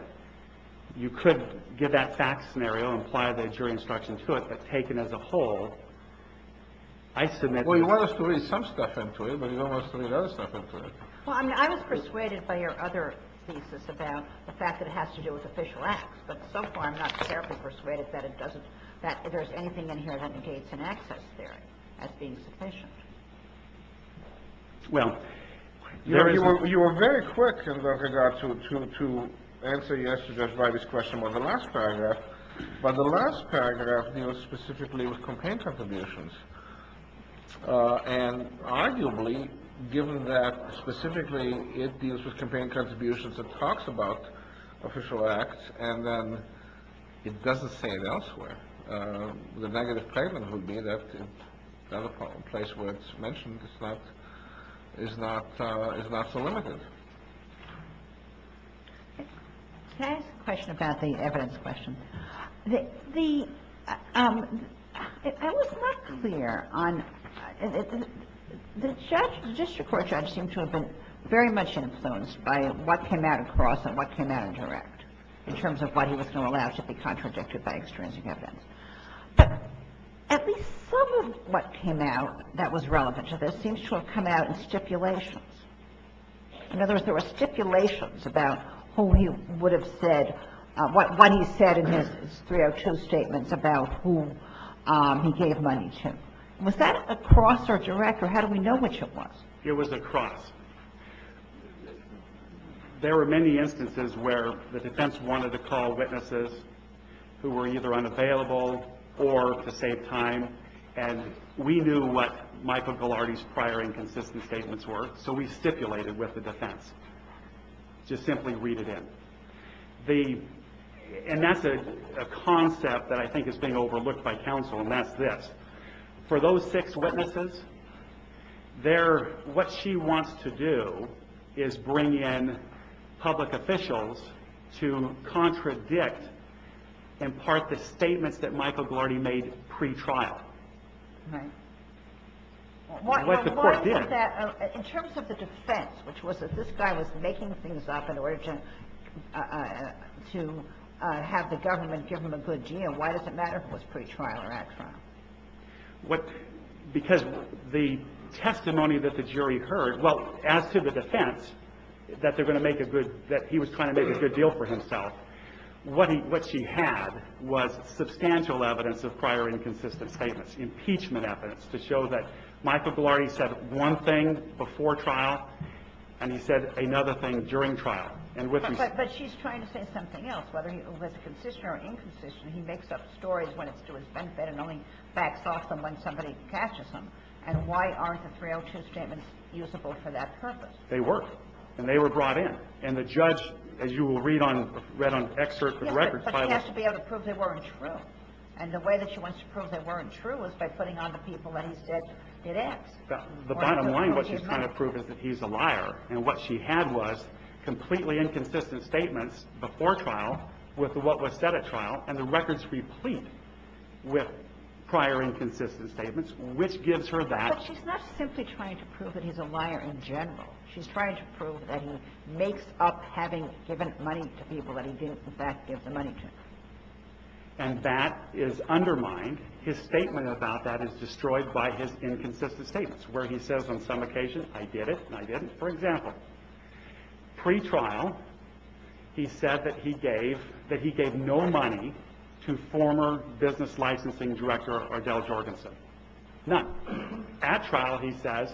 You could give that fact scenario and apply the jury instruction to it, but taken as a whole, I submit – Well, you want us to read some stuff into it, but you don't want us to read other stuff into it. Well, I mean, I was persuaded by your other thesis about the fact that it has to do with official acts, but so far I'm not terribly persuaded that it doesn't – that there's anything in here that negates an access theory as being sufficient. Well, there is – You were very quick in regard to answer yesterday's question about the last paragraph, but the last paragraph deals specifically with campaign contributions. And arguably, given that specifically it deals with campaign contributions, it talks about official acts, and then it doesn't say it elsewhere. The negative payment would be that place where it's mentioned is not so limited. Can I ask a question about the evidence question? The – I was not clear on – the judge, the district court judge, seemed to have been very much influenced by what came out across and what came out indirect in terms of what he was going to allow to be contradicted by extrinsic evidence. But at least some of what came out that was relevant to this seems to have come out in stipulations. In other words, there were stipulations about who he would have said – what he said in his 302 statements about who he gave money to. Was that across or direct, or how do we know which it was? It was across. There were many instances where the defense wanted to call witnesses who were either unavailable or to save time, and we knew what Michael Ghilardi's prior inconsistent statements were, so we stipulated with the defense to simply read it in. The – and that's a concept that I think is being overlooked by counsel, and that's this. For those six witnesses, their – what she wants to do is bring in public officials to contradict, in part, the statements that Michael Ghilardi made pretrial. Right. And what the court did. In terms of the defense, which was that this guy was making things up in order to have the government give him a good deal, why does it matter if it was pretrial or at trial? What – because the testimony that the jury heard – well, as to the defense, that they're going to make a good – that he was trying to make a good deal for himself, what he – what she had was substantial evidence of prior inconsistent statements, impeachment evidence, to show that Michael Ghilardi said one thing before trial, and he said another thing during trial. But she's trying to say something else. The judge, whether he was a concisioner or inconcisioner, he makes up stories when it's to his benefit and only backs off them when somebody catches him. And why aren't the 302 statements usable for that purpose? They were. And they were brought in. And the judge, as you will read on – read on excerpt from the record, filed a – Yes, but she has to be able to prove they weren't true. And the way that she wants to prove they weren't true is by putting on the people that he said did X. The bottom line, what she's trying to prove is that he's a liar. And what she had was completely inconsistent statements before trial with what was said at trial. And the record's replete with prior inconsistent statements, which gives her that. But she's not simply trying to prove that he's a liar in general. She's trying to prove that he makes up having given money to people that he didn't, in fact, give the money to. And that is undermined. His statement about that is destroyed by his inconsistent statements, where he says on some occasion, I did it and I didn't. For example, pre-trial, he said that he gave – that he gave no money to former business licensing director Ardell Jorgensen. None. At trial, he says,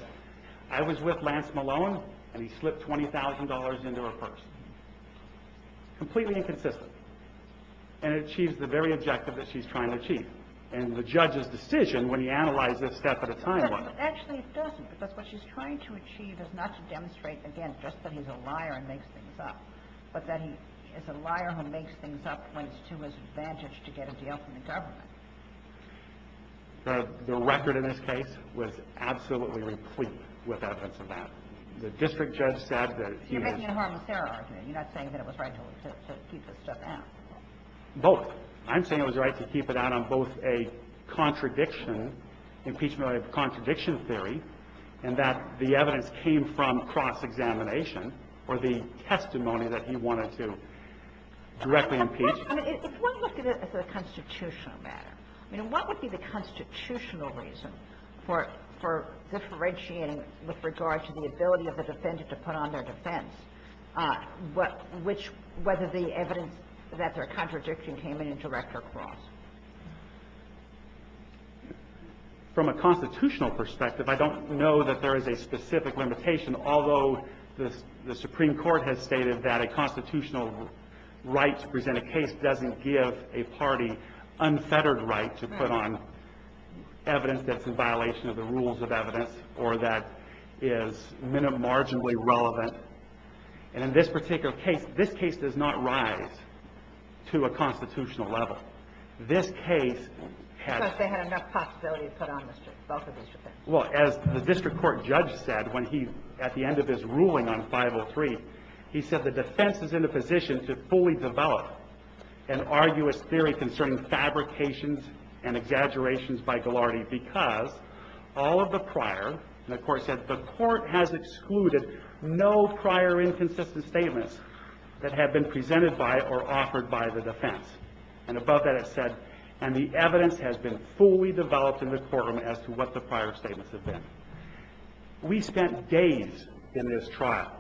I was with Lance Malone, and he slipped $20,000 into her purse. Completely inconsistent. And it achieves the very objective that she's trying to achieve. And the judge's decision when he analyzed this step at a time was – but actually it doesn't. Because what she's trying to achieve is not to demonstrate, again, just that he's a liar and makes things up, but that he is a liar who makes things up when it's to his advantage to get a deal from the government. The record in this case was absolutely replete with evidence of that. The district judge said that he has – So you're making it a harm and serve argument. You're not saying that it was right to keep this stuff out. Both. I'm saying it was right to keep it out on both a contradiction, impeachment or contradiction theory, and that the evidence came from cross-examination or the testimony that he wanted to directly impeach. If one looked at it as a constitutional matter, what would be the constitutional reason for differentiating with regard to the ability of the defendant to put on their defense, whether the evidence that they're contradicting came in direct or cross? From a constitutional perspective, I don't know that there is a specific limitation. Although the Supreme Court has stated that a constitutional right to present a case doesn't give a party unfettered right to put on evidence that's in violation of the rules of evidence or that is marginally relevant. And in this particular case, this case does not rise to a constitutional level. This case has – Because they had enough possibility to put on both of these defenses. Well, as the district court judge said when he – at the end of his ruling on 503, he said the defense is in a position to fully develop an arduous theory concerning fabrications and exaggerations by Ghilardi because all of the prior – and the court said the court has excluded no prior inconsistent statements that have been presented by or offered by the defense. And above that it said, and the evidence has been fully developed in the courtroom as to what the prior statements have been. We spent days in this trial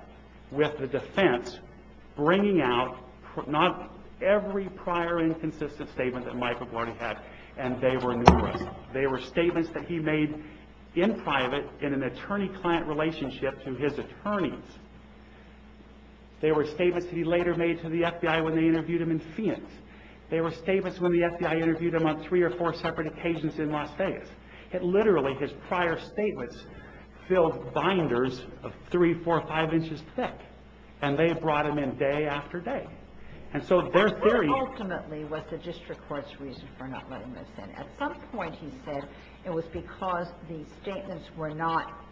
with the defense bringing out not every prior inconsistent statement that Michael Ghilardi had, and they were numerous. They were statements that he made in private in an attorney-client relationship to his attorneys. They were statements he later made to the FBI when they interviewed him in Fiance. They were statements when the FBI interviewed him on three or four separate occasions in Las Vegas. It literally, his prior statements, filled binders of three, four, five inches thick. And they brought him in day after day. And so their theory – What ultimately was the district court's reason for not letting this in? At some point he said it was because the statements were not –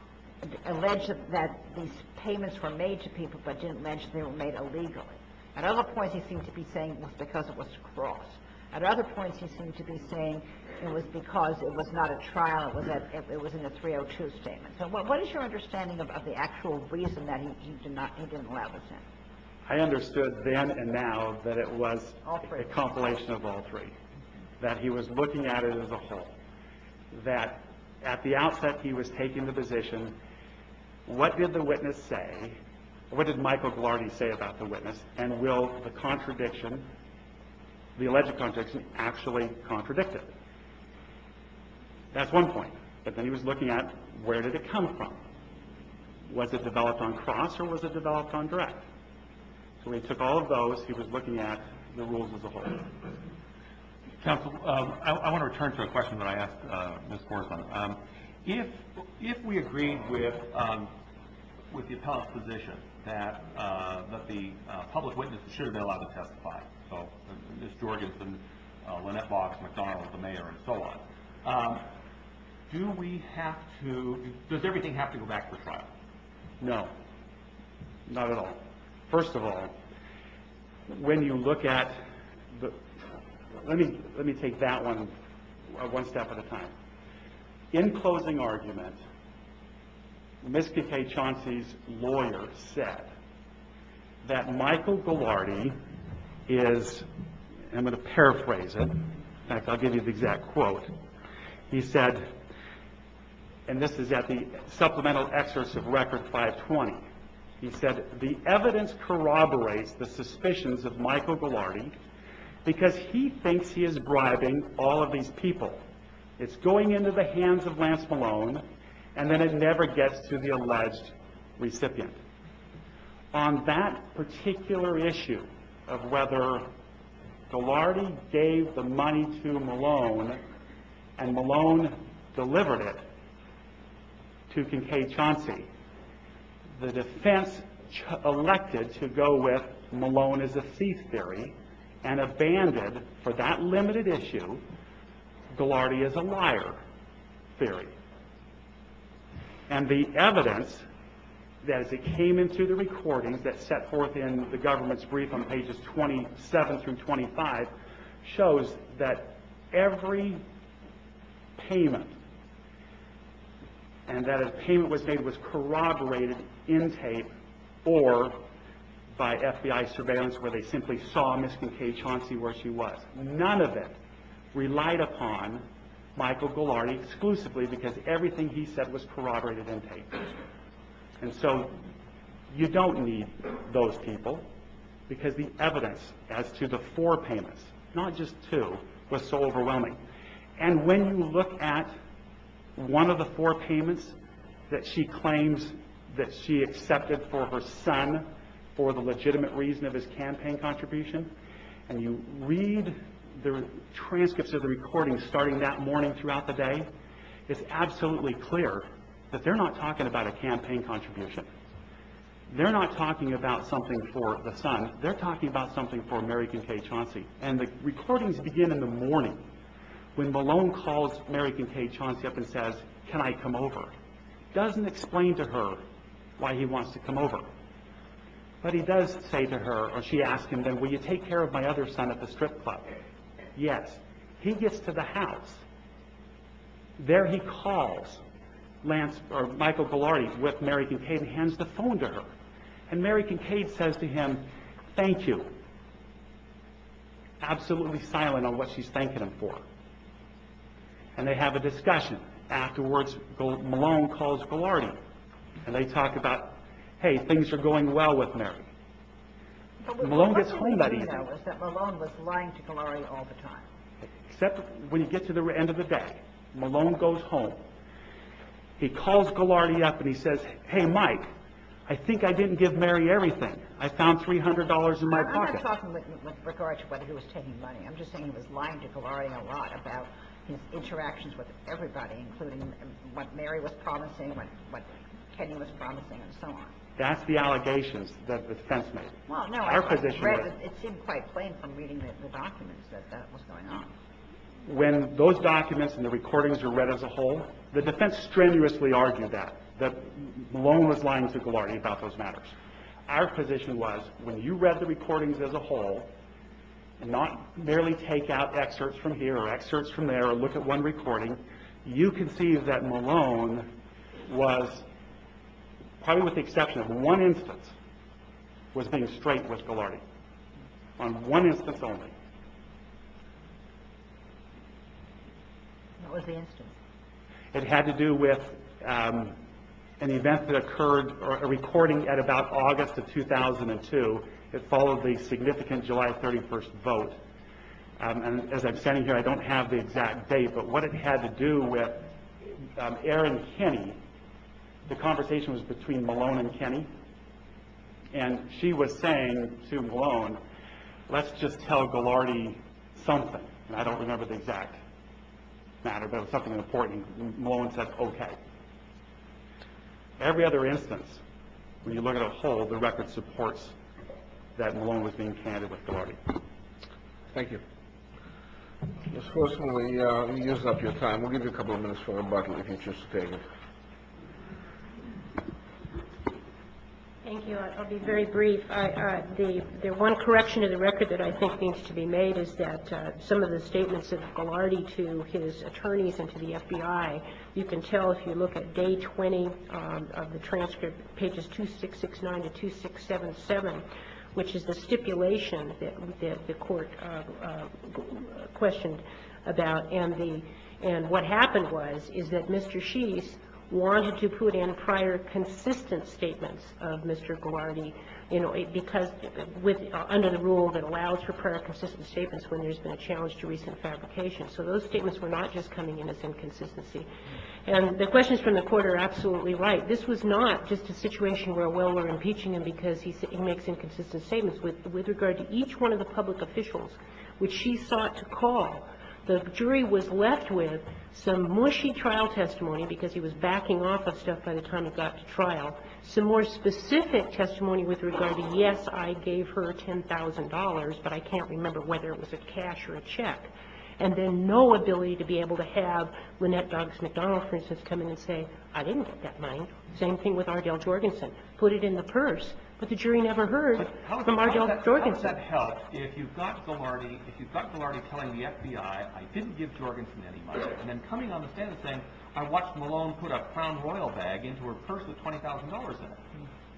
alleged that these payments were made to people but didn't mention they were made illegally. At other points he seemed to be saying it was because it was cross. At other points he seemed to be saying it was because it was not a trial, it was in a 302 statement. So what is your understanding of the actual reason that he didn't allow this in? I understood then and now that it was a compilation of all three, that he was looking at it as a whole. That at the outset he was taking the position, what did the witness say, what did Michael Gilardi say about the witness, and will the contradiction, the alleged contradiction, actually contradict it? That's one point. But then he was looking at where did it come from? Was it developed on cross or was it developed on direct? So he took all of those, he was looking at the rules as a whole. Counsel, I want to return to a question that I asked Ms. Gorsman. If we agreed with the appellate's position that the public witness should be allowed to testify, so Ms. Georgeson, Lynette Boggs, McDonald, the mayor, and so on, do we have to – does everything have to go back to the trial? No, not at all. First of all, when you look at – let me take that one one step at a time. In closing argument, Ms. Keke Chauncey's lawyer said that Michael Gilardi is – I'm going to paraphrase it. In fact, I'll give you the exact quote. He said, and this is at the supplemental excerpts of Record 520. He said, the evidence corroborates the suspicions of Michael Gilardi because he thinks he is bribing all of these people. It's going into the hands of Lance Malone and then it never gets to the alleged recipient. On that particular issue of whether Gilardi gave the money to Malone and Malone delivered it to Keke Chauncey, the defense elected to go with Malone is a thief theory and abandoned, for that limited issue, Gilardi is a liar theory. And the evidence that came into the recordings that set forth in the government's brief on pages 27 through 25 shows that every payment and that a payment was made was corroborated in tape or by FBI surveillance where they simply saw Ms. Keke Chauncey where she was. None of it relied upon Michael Gilardi exclusively because everything he said was corroborated in tape. And so you don't need those people because the evidence as to the four payments, not just two, was so overwhelming. And when you look at one of the four payments that she claims that she accepted for her son for the legitimate reason of his campaign contribution and you read the transcripts of the recording starting that morning throughout the day it's absolutely clear that they're not talking about a campaign contribution. They're not talking about something for the son. They're talking about something for Mary Keke Chauncey. And the recordings begin in the morning when Malone calls Mary Keke Chauncey up and says, Can I come over? Doesn't explain to her why he wants to come over. But he does say to her, or she asks him then, Will you take care of my other son at the strip club? Yes. He gets to the house. There he calls Michael Ghilardi with Mary Keke Chauncey and hands the phone to her. And Mary Keke Chauncey says to him, Thank you. Absolutely silent on what she's thanking him for. And they have a discussion. Afterwards Malone calls Ghilardi and they talk about, Hey, things are going well with Mary. Malone gets home that evening. What you didn't know is that Malone was lying to Ghilardi all the time. Except when you get to the end of the day, Malone goes home. He calls Ghilardi up and he says, Hey Mike, I think I didn't give Mary everything. I found $300 in my pocket. I'm not talking with regard to whether he was taking money. I'm just saying he was lying to Ghilardi a lot about his interactions with everybody, including what Mary was promising, what Kenny was promising and so on. That's the allegations that the defense made. It seemed quite plain from reading the documents that that was going on. When those documents and the recordings were read as a whole, the defense strenuously argued that Malone was lying to Ghilardi about those matters. Our position was when you read the recordings as a whole, and not merely take out excerpts from here or excerpts from there or look at one recording, you can see that Malone was, probably with the exception of one instance, was being straight with Ghilardi. On one instance only. What was the instance? It had to do with an event that occurred, a recording at about August of 2002 that followed the significant July 31st vote. As I'm standing here, I don't have the exact date, but what it had to do with Aaron Kenny. The conversation was between Malone and Kenny, and she was saying to Malone, let's just tell Ghilardi something. I don't remember the exact matter, but it was something important. Malone said okay. Every other instance, when you look at a whole, the record supports that Malone was being candid with Ghilardi. Thank you. Ms. Horseman, we used up your time. We'll give you a couple of minutes for rebuttal if you'd just state it. Thank you. I'll be very brief. The one correction to the record that I think needs to be made is that some of the statements of Ghilardi to his attorneys and to the FBI, you can tell if you look at day 20 of the transcript, pages 2669 to 2677, which is the stipulation that the Court questioned about, and what happened was is that Mr. Sheese wanted to put in prior consistent statements of Mr. Ghilardi because under the rule that allows for prior consistent statements when there's been a challenge to recent fabrication. So those statements were not just coming in as inconsistency. And the questions from the Court are absolutely right. This was not just a situation where, well, we're impeaching him because he makes inconsistent statements. With regard to each one of the public officials which she sought to call, the jury was left with some mushy trial testimony because he was backing off of stuff by the time it got to trial, some more specific testimony with regard to, yes, I gave her $10,000, but I can't remember whether it was a cash or a check, and then no ability to be able to have Lynette Boggs McDonald, for instance, come in and say, I didn't get that money. Same thing with Ardell Jorgensen. Put it in the purse. But the jury never heard from Ardell Jorgensen. But how does that help if you've got Ghilardi telling the FBI, I didn't give Jorgensen any money, and then coming on the stand and saying, I watched Malone put a crown royal bag into her purse with $20,000 in it.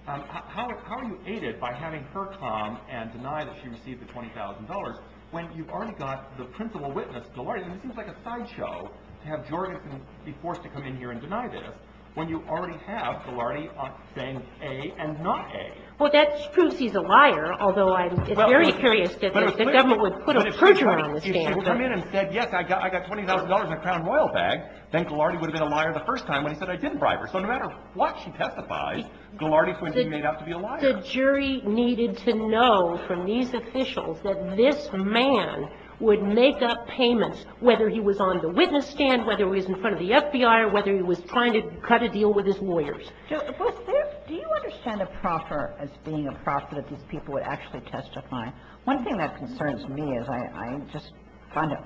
How are you aided by having her come and deny that she received the $20,000 when you've already got the principal witness, Ghilardi, and it seems like a sideshow to have Jorgensen be forced to come in here and deny this when you already have Ghilardi saying A and not A. Well, that proves he's a liar, although I'm very curious that the government would put a perjurer on the stand. But if she would come in and said, yes, I got $20,000 in a crown royal bag, then Ghilardi would have been a liar the first time when he said I didn't bribe her. So no matter what she testifies, Ghilardi's going to be made out to be a liar. And the jury needed to know from these officials that this man would make up payments, whether he was on the witness stand, whether he was in front of the FBI, or whether he was trying to cut a deal with his lawyers. Do you understand a proffer as being a proffer that these people would actually testify? One thing that concerns me is I just find it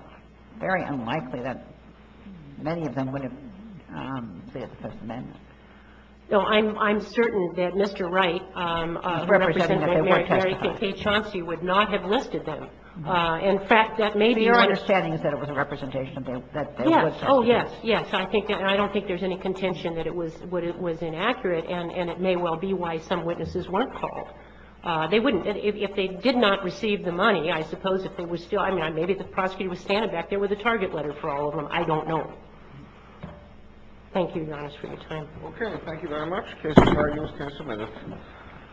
very unlikely that many of them would have said the First Amendment. No, I'm certain that Mr. Wright, the representative of Mary Kay Chauncey, would not have listed them. In fact, that may be my ---- Your understanding is that it was a representation that they would testify. Yes. Oh, yes. Yes. I don't think there's any contention that it was inaccurate, and it may well be why some witnesses weren't called. They wouldn't. If they did not receive the money, I suppose if they were still ---- I mean, maybe the prosecutor was standing back there with a target letter for all of them. I don't know. Thank you, Your Honor, for your time. Okay. Thank you very much. The case is argued and submitted.